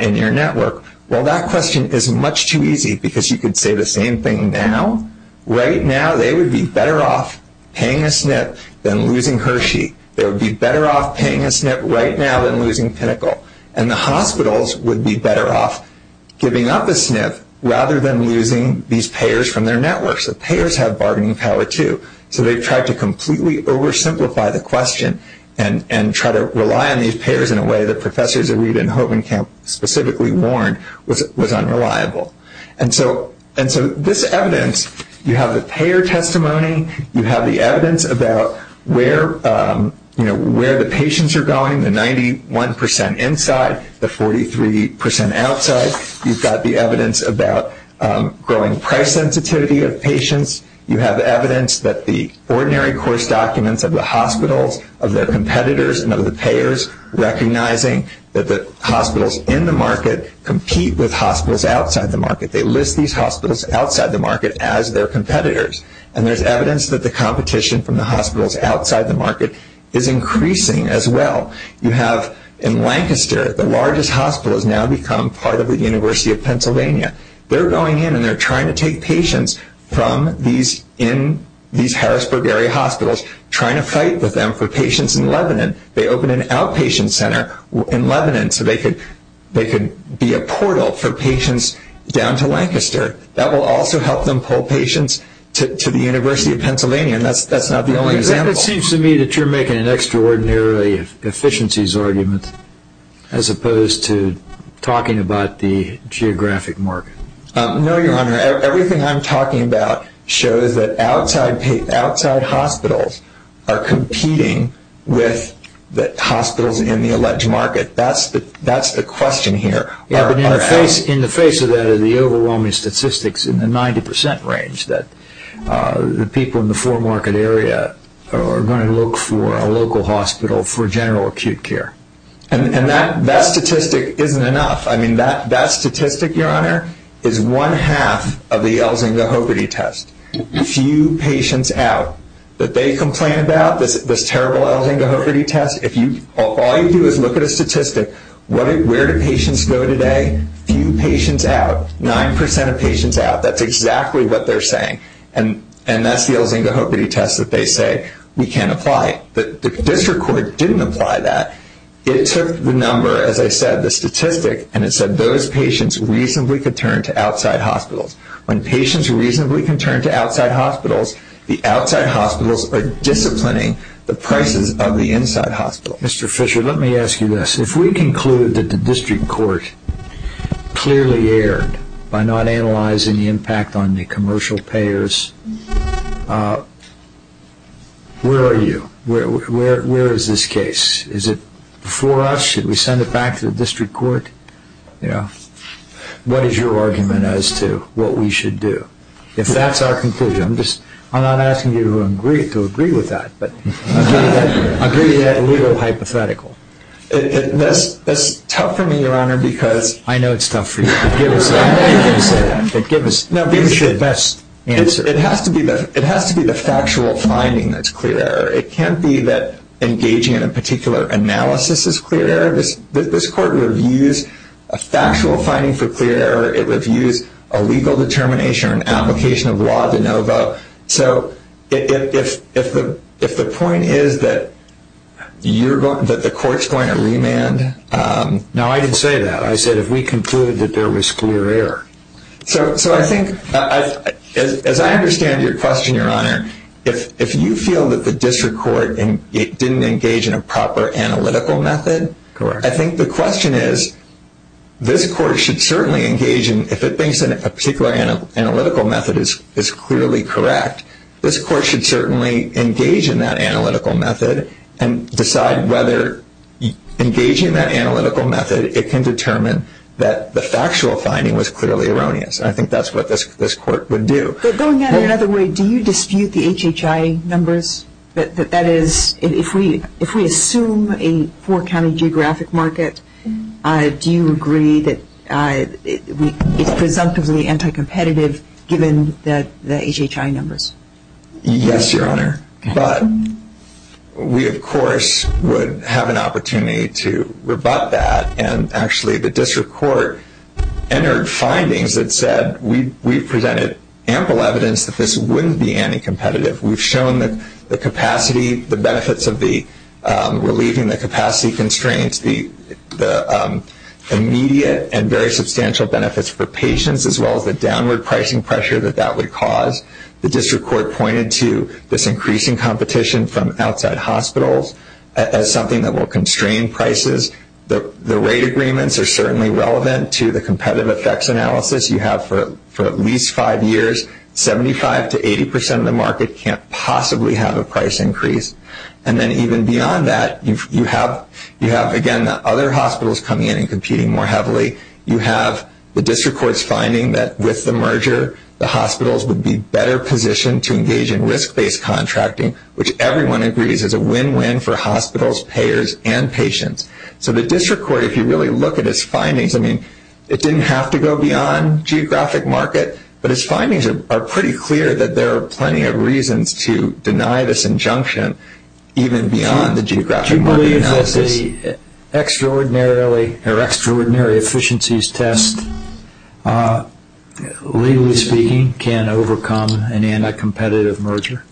in your network? Well, that question is much too easy because you could say the same thing now. Right now they would be better off paying a SNP than losing Hershey. They would be better off paying a SNP right now than losing Pinnacle. And the hospitals would be better off giving up a SNP rather than losing these payers from their networks. The payers have bargaining power too. So they tried to completely oversimplify the question and try to rely on these payers in a way that Professors Arita and Hovenkamp specifically warned was unreliable. And so this evidence, you have the payer testimony, you have the evidence about where the patients are going, the 91% inside, the 43% outside. You've got the evidence about growing price sensitivity of patients. You have evidence that the ordinary course documents of the hospitals, of their competitors, and of the payers recognizing that the hospitals in the market compete with hospitals outside the market. They list these hospitals outside the market as their competitors. And there's evidence that the competition from the hospitals outside the market is increasing as well. You have in Lancaster, the largest hospitals now become part of the University of Pennsylvania. They're going in and they're trying to take patients from these Harrisburg area hospitals, trying to fight with them for patients in Lebanon. They opened an outpatient center in Lebanon so they could be a portal for patients down to Lancaster. That will also help them pull patients to the University of Pennsylvania, and that's not the only example. It seems to me that you're making an extraordinary efficiencies argument as opposed to talking about the geographic market. No, Your Honor. Everything I'm talking about shows that outside hospitals are competing with the hospitals in the alleged market. That's the question here. In the face of that are the overwhelming statistics in the 90% range that the people in the foremarket area are going to look for a local hospital for general acute care. And that statistic isn't enough. That statistic, Your Honor, is one half of the Elzinga-Hogarty test. Few patients out. If they complain about this terrible Elzinga-Hogarty test, all you do is look at a statistic. Where do patients go today? Few patients out. Nine percent of patients out. That's exactly what they're saying. And that's the Elzinga-Hogarty test that they say we can't apply. But if this record didn't apply that, it took the number, as I said, the statistic, and it said those patients reasonably could turn to outside hospitals. When patients reasonably can turn to outside hospitals, the outside hospitals are disciplining the prices of the inside hospitals. Mr. Fisher, let me ask you this. If we conclude that the district court clearly erred by not analyzing the impact on the commercial payers, where are you? Where is this case? Is it before us? Did we send it back to the district court? Yeah. What is your argument as to what we should do? If that's our conclusion, I'm not asking you to agree with that, but I'm thinking that's a little hypothetical. That's tough for me, Your Honor, because I know it's tough for you. Give us your best answer. It has to be the factual finding that's clear. It can't be that engaging in a particular analysis is clear error. This court would have used a factual finding for clear error. It would have used a legal determination or an application of law to know about. So if the point is that the court's going to remand, no, I didn't say that. I said if we concluded that there was clear error. So I think, as I understand your question, Your Honor, if you feel that the district court didn't engage in a proper analytical method, I think the question is this court should certainly engage in, if it thinks that a particular analytical method is clearly correct, this court should certainly engage in that analytical method and decide whether engaging that analytical method, it can determine that the factual finding was clearly erroneous. I think that's what this court would do. Going back another way, do you dispute the HHI numbers? That is, if we assume a four-county geographic market, do you agree that it's presumptively anti-competitive given the HHI numbers? Yes, Your Honor, but we, of course, would have an opportunity to rebut that, and actually the district court entered findings that said we've presented ample evidence that this wouldn't be anti-competitive. We've shown that the capacity, the benefits of relieving the capacity constraints, the immediate and very substantial benefits for patients as well as the downward pricing pressure that that would cause, the district court pointed to this increasing competition from outside hospitals as something that will constrain prices. The rate agreements are certainly relevant to the competitive effects analysis you have for at least five years. Seventy-five to 80 percent of the market can't possibly have a price increase. And then even beyond that, you have, again, the other hospitals coming in and competing more heavily. You have the district court's finding that with the merger, the hospitals would be better positioned to engage in risk-based contracting, which everyone agrees is a win-win for hospitals, payers, and patients. So the district court, if you really look at its findings, I mean, it didn't have to go beyond geographic market, but its findings are pretty clear that there are plenty of reasons to deny this injunction even beyond the geographic market analysis. The extraordinary efficiencies test, legally speaking, can overcome any anti-competitive merger.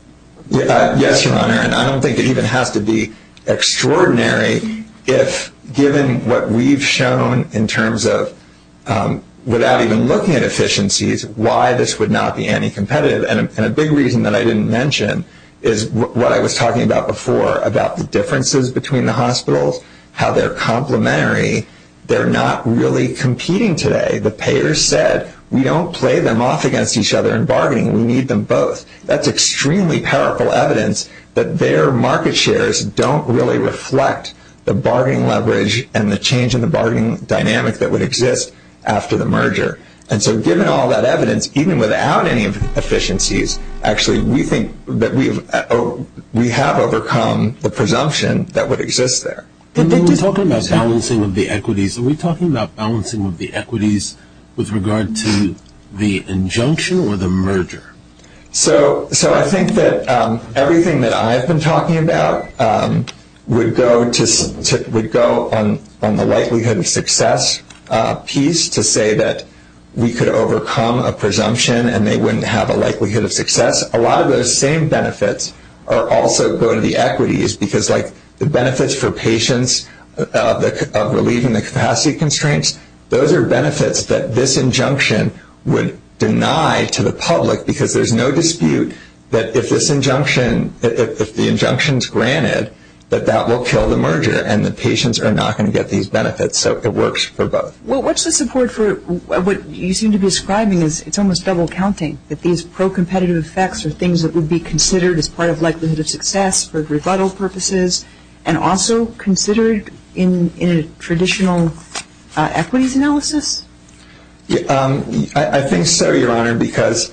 Yes, Your Honor, and I don't think it even has to be extraordinary if, given what we've shown in terms of, without even looking at efficiencies, why this would not be anti-competitive. And a big reason that I didn't mention is what I was talking about before, about the differences between the hospitals, how they're complementary. They're not really competing today. The payers said, we don't play them off against each other in bargaining. We need them both. That's extremely powerful evidence that their market shares don't really reflect the bargaining leverage And so given all that evidence, even without any efficiencies, actually we think that we have overcome the presumption that would exist there. When we're talking about balancing of the equities, are we talking about balancing of the equities with regard to the injunction or the merger? So I think that everything that I've been talking about would go on the likelihood of success piece to say that we could overcome a presumption and they wouldn't have a likelihood of success. A lot of those same benefits are also going to the equities because, like, the benefits for patients relieving the capacity constraints, those are benefits that this injunction would deny to the public because there's no dispute that if this injunction, if the injunction's granted, that that will kill the merger and the patients are not going to get these benefits. So it works for both. Well, what's the support for what you seem to be ascribing is it's almost double counting, that these pro-competitive effects are things that would be considered as part of likelihood of success for rebuttal purposes and also considered in a traditional equities analysis? I think so, Your Honor, because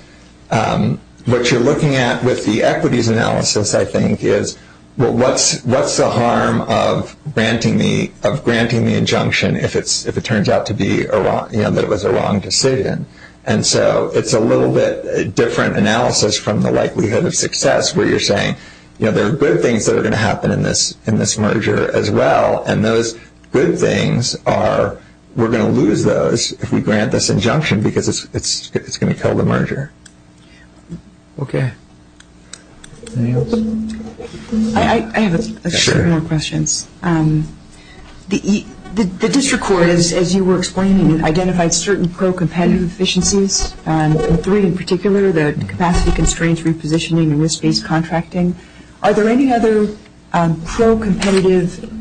what you're looking at with the equities analysis, I think, is what's the harm of granting the injunction if it turns out to be that it was a wrong decision? And so it's a little bit different analysis from the likelihood of success where you're saying, you know, there are good things that are going to happen in this merger as well, and those good things are we're going to lose those if we grant this injunction because it's going to kill the merger. Okay. I have a question. The district court, as you were explaining, identified certain pro-competitive efficiencies, including in particular the capacity constraints repositioning and risk-based contracting. Are there any other pro-competitive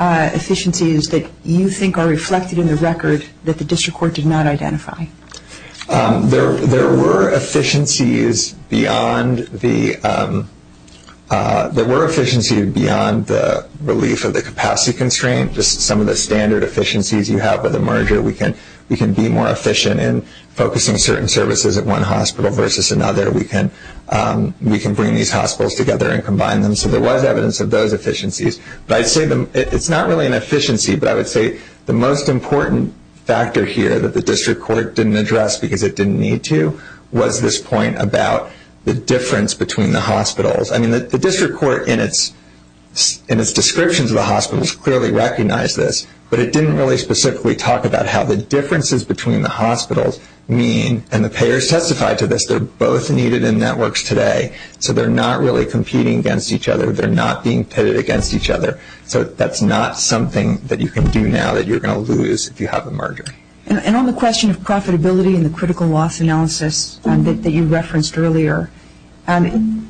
efficiencies that you think are reflected in the record that the district court did not identify? There were efficiencies beyond the relief of the capacity constraints. This is some of the standard efficiencies you have with a merger. We can be more efficient in focusing certain services at one hospital versus another. We can bring these hospitals together and combine them. So there was evidence of those efficiencies. It's not really an efficiency, but I would say the most important factor here that the district court didn't address because it didn't need to was this point about the difference between the hospitals. I mean, the district court in its descriptions of the hospitals clearly recognized this, but it didn't really specifically talk about how the differences between the hospitals mean, and the payers testified to this, they're both needed in networks today. So they're not really competing against each other. They're not being pitted against each other. So that's not something that you can do now that you're going to lose if you have a merger. And on the question of profitability and the critical loss analysis that you referenced earlier, in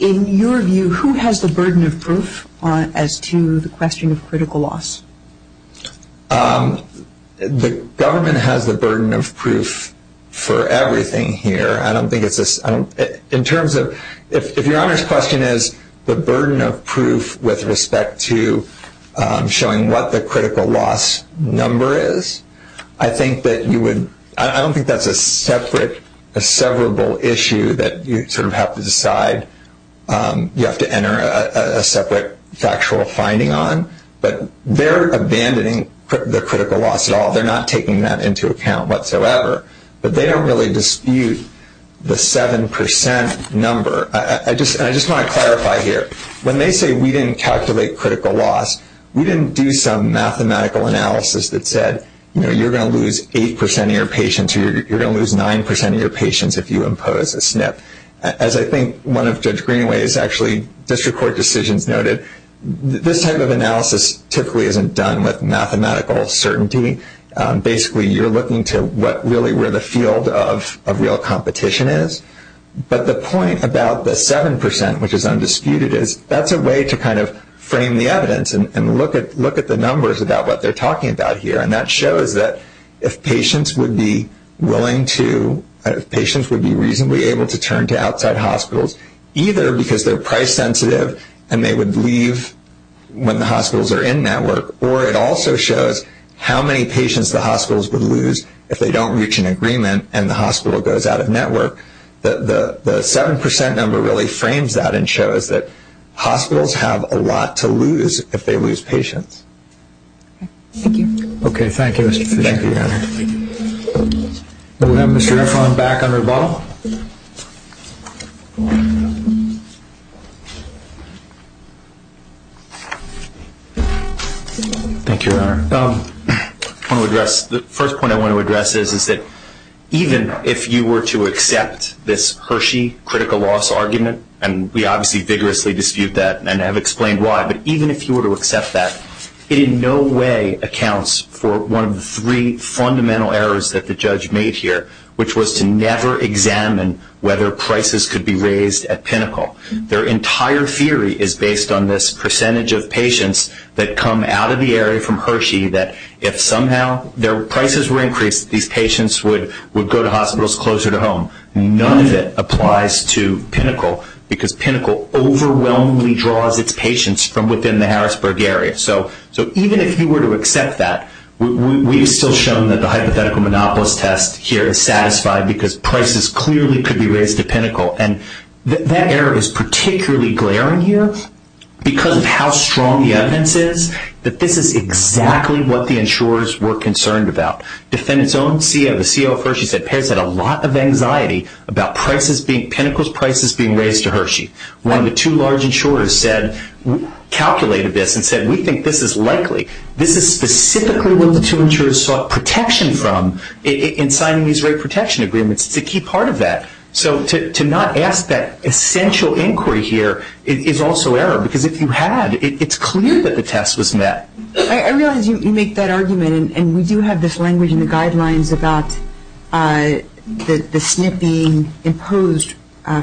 your view, who has the burden of proof as to the question of critical loss? The government has the burden of proof for everything here. In terms of if your honest question is the burden of proof with respect to showing what the critical loss number is, I don't think that's a severable issue that you sort of have to decide you have to enter a separate factual finding on. But they're abandoning the critical loss at all. They're not taking that into account whatsoever. But they don't really dispute the 7% number. I just want to clarify here. When they say we didn't calculate critical loss, we didn't do some mathematical analysis that said, you know, you're going to lose 8% of your patients or you're going to lose 9% of your patients if you impose a SNP. As I think one of Judge Greenaway's actually district court decisions noted, this type of analysis typically isn't done with mathematical certainty. Basically, you're looking to really where the field of real competition is. But the point about the 7%, which is undisputed, is that's a way to kind of frame the evidence and look at the numbers about what they're talking about here. And that shows that if patients would be reasonably able to turn to outside hospitals, either because they're price sensitive and they would leave when the hospitals are in that work, or it also shows how many patients the hospitals would lose if they don't reach an agreement and the hospital goes out of network. The 7% number really frames that and shows that hospitals have a lot to lose if they lose patients. Okay, thank you. Thank you, Your Honor. We'll have Mr. Eckhoff back on revolve. Thank you, Your Honor. I want to address, the first point I want to address is that even if you were to accept this Hershey critical loss argument, and we obviously vigorously dispute that and have explained why, but even if you were to accept that, it in no way accounts for one of the three fundamental errors that the judge made here, which was to never examine whether prices could be raised at Pinnacle. Their entire theory is based on this percentage of patients that come out of the area from Hershey that if somehow their prices were increased, these patients would go to hospitals closer to home. None of it applies to Pinnacle because Pinnacle overwhelmingly draws its patients from within the Harrisburg area. So even if you were to accept that, we've still shown that the hypothetical monopolist test here is satisfied because prices clearly could be raised at Pinnacle. And that error is particularly glaring here because of how strong the evidence is that this is exactly what the insurers were concerned about. The CEO of Hershey said payers had a lot of anxiety about Pinnacle's prices being raised to Hershey. One of the two large insurers calculated this and said we think this is likely. This is specifically what the two insurers sought protection from in signing these rate protection agreements to keep part of that. So to not ask that essential inquiry here is also error because if you had, it's clear that the test was met. I realize you make that argument and we do have this language in the guidelines about the SNP being imposed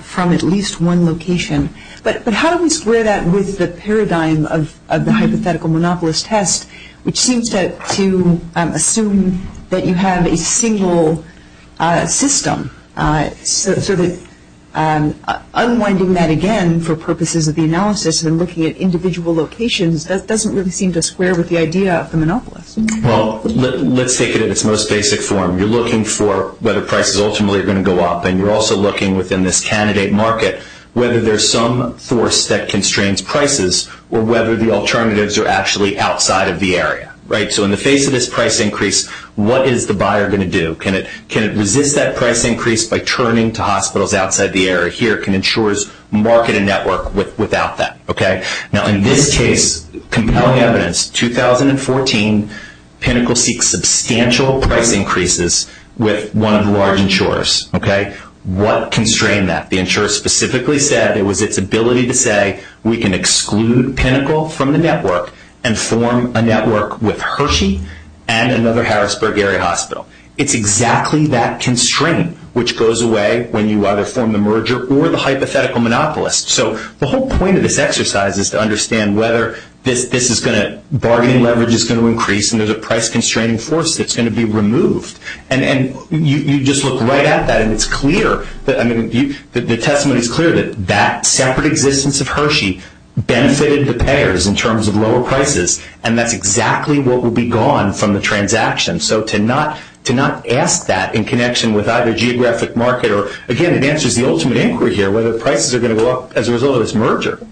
from at least one location. But how do we square that with the paradigm of the hypothetical monopolist test, which seems to assume that you have a single system? So that unwinding that again for purposes of the analysis and looking at individual locations, that doesn't really seem to square with the idea of the monopolist. Well, let's take it in its most basic form. You're looking for whether prices ultimately are going to go up and you're also looking within this candidate market whether there's some force that constrains prices or whether the alternatives are actually outside of the area. So in the face of this price increase, what is the buyer going to do? Can it resist that price increase by turning to hospitals outside the area? Here can insurers market a network without that? Now in this case, compelling evidence, 2014, Pinnacle seeks substantial price increases with one of the large insurers. What constrained that? The insurer specifically said it was its ability to say, we can exclude Pinnacle from the network and form a network with Hershey and another Harrisburg area hospital. It's exactly that constraint which goes away when you either form the merger or the hypothetical monopolist. So the whole point of this exercise is to understand whether bargaining leverage is going to increase and there's a price-constraining force that's going to be removed. And you just look right at that and it's clear, the testimony is clear that that separate existence of Hershey benefited the payers in terms of lower prices and that's exactly what would be gone from the transaction. So to not ask that in connection with either geographic market or, again, it answers the ultimate inquiry here whether the prices are going to go up as a result of this merger.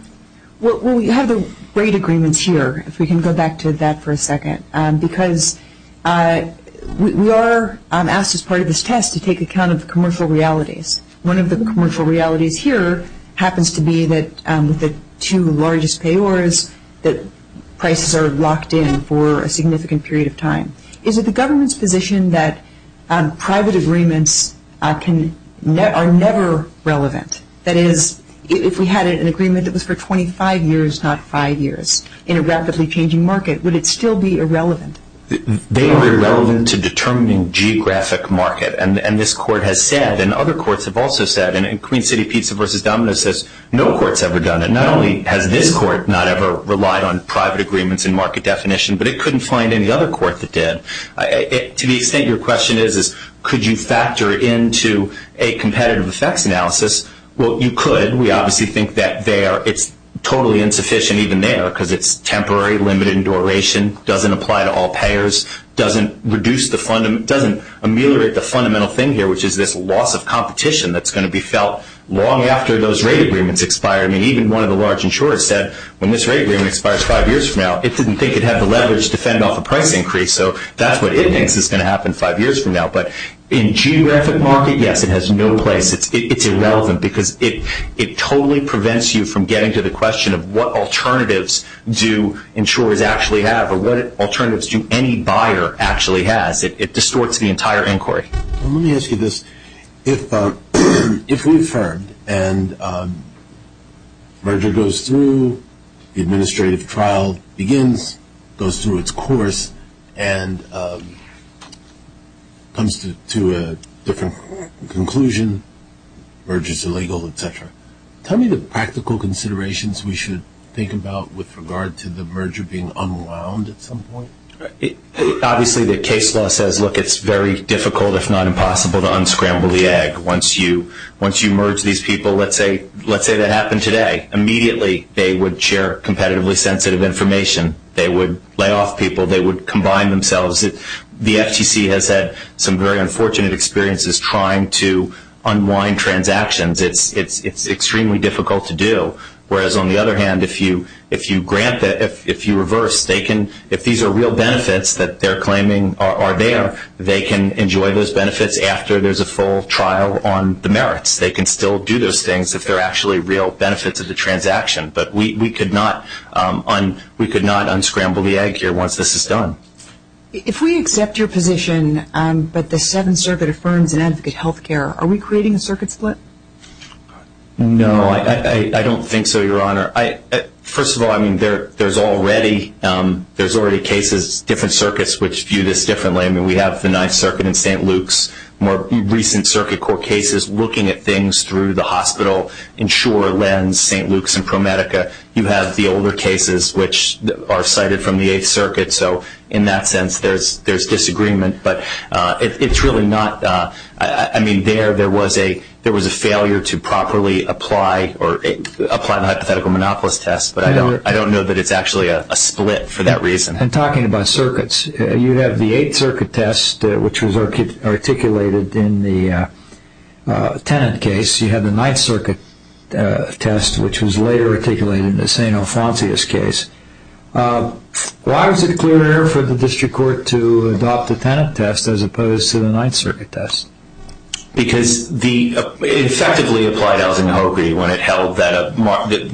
Well, we have a great agreement here, if we can go back to that for a second, because we are asked as part of this test to take account of the commercial realities. One of the commercial realities here happens to be that the two largest payers, the prices are locked in for a significant period of time. Is it the government's position that private agreements are never relevant? That is, if we had an agreement that was for 25 years, not five years, in a rapidly changing market, would it still be irrelevant? They are irrelevant to determining geographic market and this court has said and other courts have also said and Queen City Pizza v. Domino says no court's ever done it. Not only has this court not ever relied on private agreements and market definition, but it couldn't find any other court that did. To the extent your question is could you factor into a competitive effects analysis, well, you could. We obviously think that it's totally insufficient even there because it's temporary, limited in duration, doesn't apply to all payers, doesn't ameliorate the fundamental thing here, which is this loss of competition that's going to be felt long after those rate agreements expire. I mean, even one of the large insurers said when this rate agreement expires five years from now, it didn't think it had the leverage to fend off a price increase, so that's what it thinks is going to happen five years from now. But in geographic market, yes, it has no place. It's irrelevant because it totally prevents you from getting to the question of what alternatives do insurers actually have or what alternatives do any buyer actually has. It distorts the entire inquiry. Let me ask you this. If we've heard and a merger goes through, the administrative trial begins, goes through its course, and comes to a different conclusion, merger's illegal, et cetera, tell me the practical considerations we should think about with regard to the merger being unwound at some point. Obviously, the case law says, look, it's very difficult, if not impossible, to unscramble the egg. Once you merge these people, let's say that happened today, immediately they would share competitively sensitive information. They would lay off people. They would combine themselves. The FCC has had some very unfortunate experiences trying to unwind transactions. It's extremely difficult to do. Whereas, on the other hand, if you grant it, if you reverse, if these are real benefits that they're claiming are there, they can enjoy those benefits after there's a full trial on the merits. They can still do those things if they're actually real benefits of the transaction. But we could not unscramble the egg here once this is done. If we accept your position that the Seventh Circuit affirms and advocates health care, are we creating a circuit split? No, I don't think so, Your Honor. First of all, I mean, there's already cases, different circuits, which view this differently. I mean, we have the Ninth Circuit in St. Luke's, more recent circuit court cases, looking at things through the hospital insurer lens, St. Luke's and ProMedica. You have the older cases, which are cited from the Eighth Circuit. So, in that sense, there's disagreement. But it's really not. I mean, there was a failure to properly apply a hypothetical monopolist test, but I don't know that it's actually a split for that reason. And talking about circuits, you have the Eighth Circuit test, which was articulated in the Tennant case. You have the Ninth Circuit test, which was later articulated in the St. Alphonsius case. Why was it clear for the district court to adopt the Tennant test as opposed to the Ninth Circuit test? Because the effectively applied Algina-Hogarty one, it held that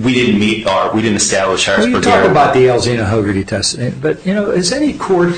we didn't meet our, we didn't establish our... Well, you talk about the Algina-Hogarty test, but, you know, has any court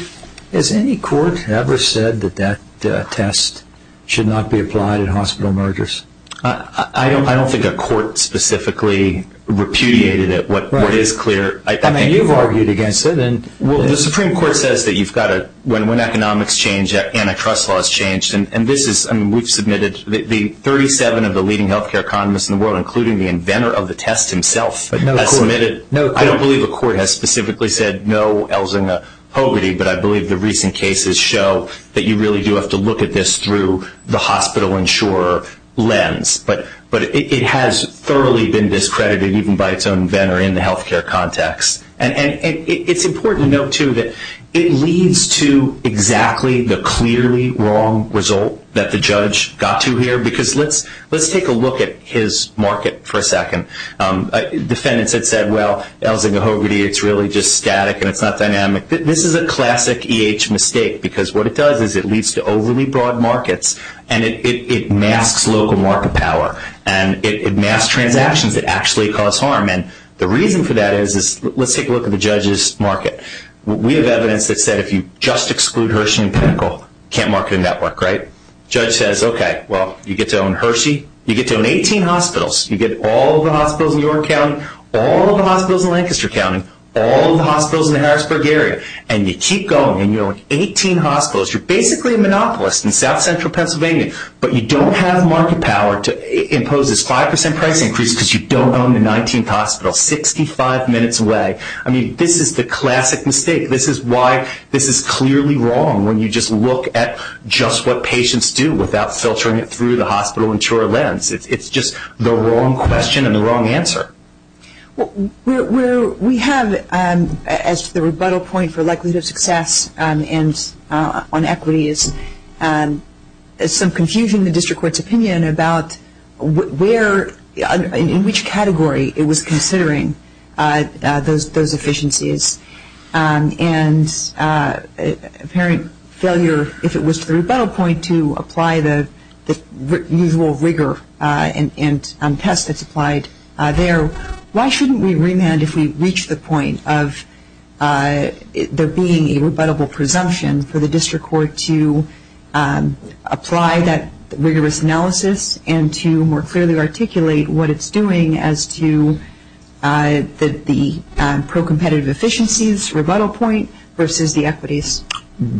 ever said that that test should not be applied in hospital mergers? I don't think a court specifically repudiated it. I mean, you've argued against it. Well, the Supreme Court says that you've got to, when economics change, antitrust laws change. And this is, I mean, we've submitted, the 37 of the leading health care economists in the world, including the inventor of the test himself, has submitted. I don't believe a court has specifically said no Algina-Hogarty, but I believe the recent cases show that you really do have to look at this through the hospital insurer lens. But it has thoroughly been discredited even by its own inventor in the health care context. And it's important to note, too, that it leads to exactly the clearly wrong result that the judge got to here. Because let's take a look at his market for a second. Defendants have said, well, Algina-Hogarty, it's really just static and it's not dynamic. This is a classic EH mistake because what it does is it leads to overly broad markets and it masks local market power and it masks transactions that actually cause harm. And the reason for that is, let's take a look at the judge's market. We have evidence that said if you just exclude Hershey and Pickle, you can't market them that way, right? The judge says, okay, well, you get to own Hershey, you get to own 18 hospitals. You get all of the hospitals in York County, all of the hospitals in Lancaster County, all of the hospitals in the Harrisburg area, and you keep going and you own 18 hospitals. You're basically a monopolist in south-central Pennsylvania, but you don't have market power to impose this 5% price increase because you don't own the 19th hospital 65 minutes away. I mean, this is the classic mistake. This is why this is clearly wrong when you just look at just what patients do without filtering it through the hospital and chore lens. It's just the wrong question and the wrong answer. Well, we have, as the rebuttal point for likelihood of success and on equity, is some confusion in the district court's opinion about where, in which category it was considering those efficiencies. And apparent failure, if it was the rebuttal point, to apply the usual rigor and test that's applied there. Why shouldn't we remand if we reach the point of there being a rebuttable presumption for the district court to apply that rigorous analysis and to more clearly articulate what it's doing as to the pro-competitive efficiencies rebuttal point versus the equities?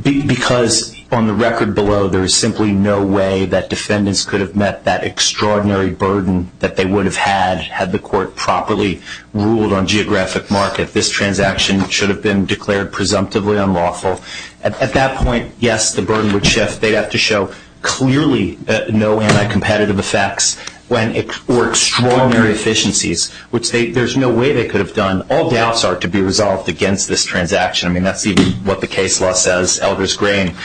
Because on the record below, there is simply no way that defendants could have met that extraordinary burden that they would have had had the court properly ruled on geographic market. This transaction should have been declared presumptively unlawful. At that point, yes, the burden would shift. Yes, they'd have to show clearly no uncompetitive effects or extraordinary efficiencies, which there's no way they could have done. All doubts are to be resolved against this transaction. I mean, that's even what the case law says, Elder's Grain.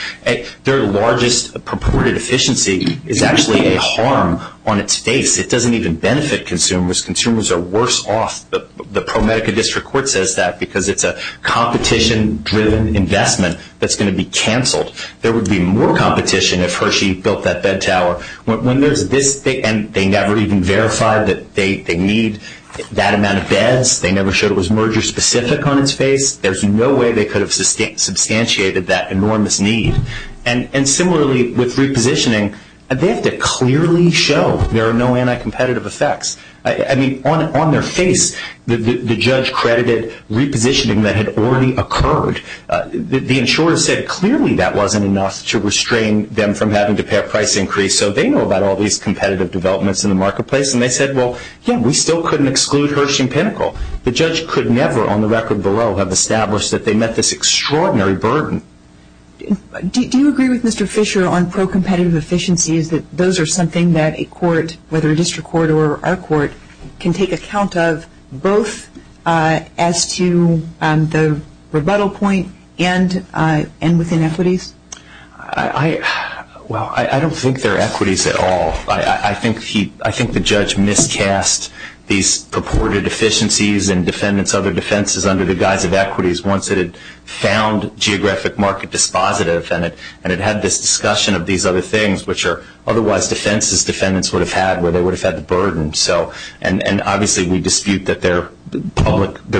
Their largest purported efficiency is actually a harm on its face. It doesn't even benefit consumers. Consumers are worse off. The ProMedica District Court says that because it's a competition-driven investment that's going to be canceled. There would be more competition if Hershey built that bed tower. And they never even verified that they need that amount of beds. They never showed it was merger-specific on its face. There's no way they could have substantiated that enormous need. And similarly, with repositioning, they have to clearly show there are no anti-competitive effects. I mean, on their face, the judge credited repositioning that had already occurred. The insurer said clearly that wasn't enough to restrain them from having to pay a price increase. So they know about all these competitive developments in the marketplace. And they said, well, yeah, we still couldn't exclude Hershey & Pinnacle. The judge could never on the record below have established that they met this extraordinary burden. Do you agree with Mr. Fisher on pro-competitive efficiencies, that those are something that a court, whether a district court or our court, can take account of both as to the rebuttal point and within equities? Well, I don't think they're equities at all. I think the judge miscast these purported efficiencies and defendants' other defenses under the guise of equities once it had found geographic market dispositive and it had this discussion of these other things, which are otherwise defenses defendants would have had where they would have had the burden. And obviously we dispute that they're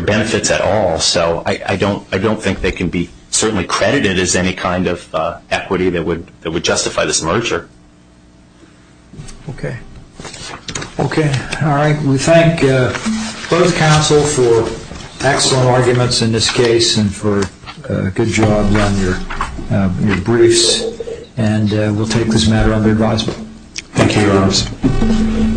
benefits at all. So I don't think they can be certainly credited as any kind of equity that would justify this merger. Okay. All right. We thank both counsel for excellent arguments in this case and for a good job on your briefs. And we'll take this matter under advisement. Thank you, Your Honor.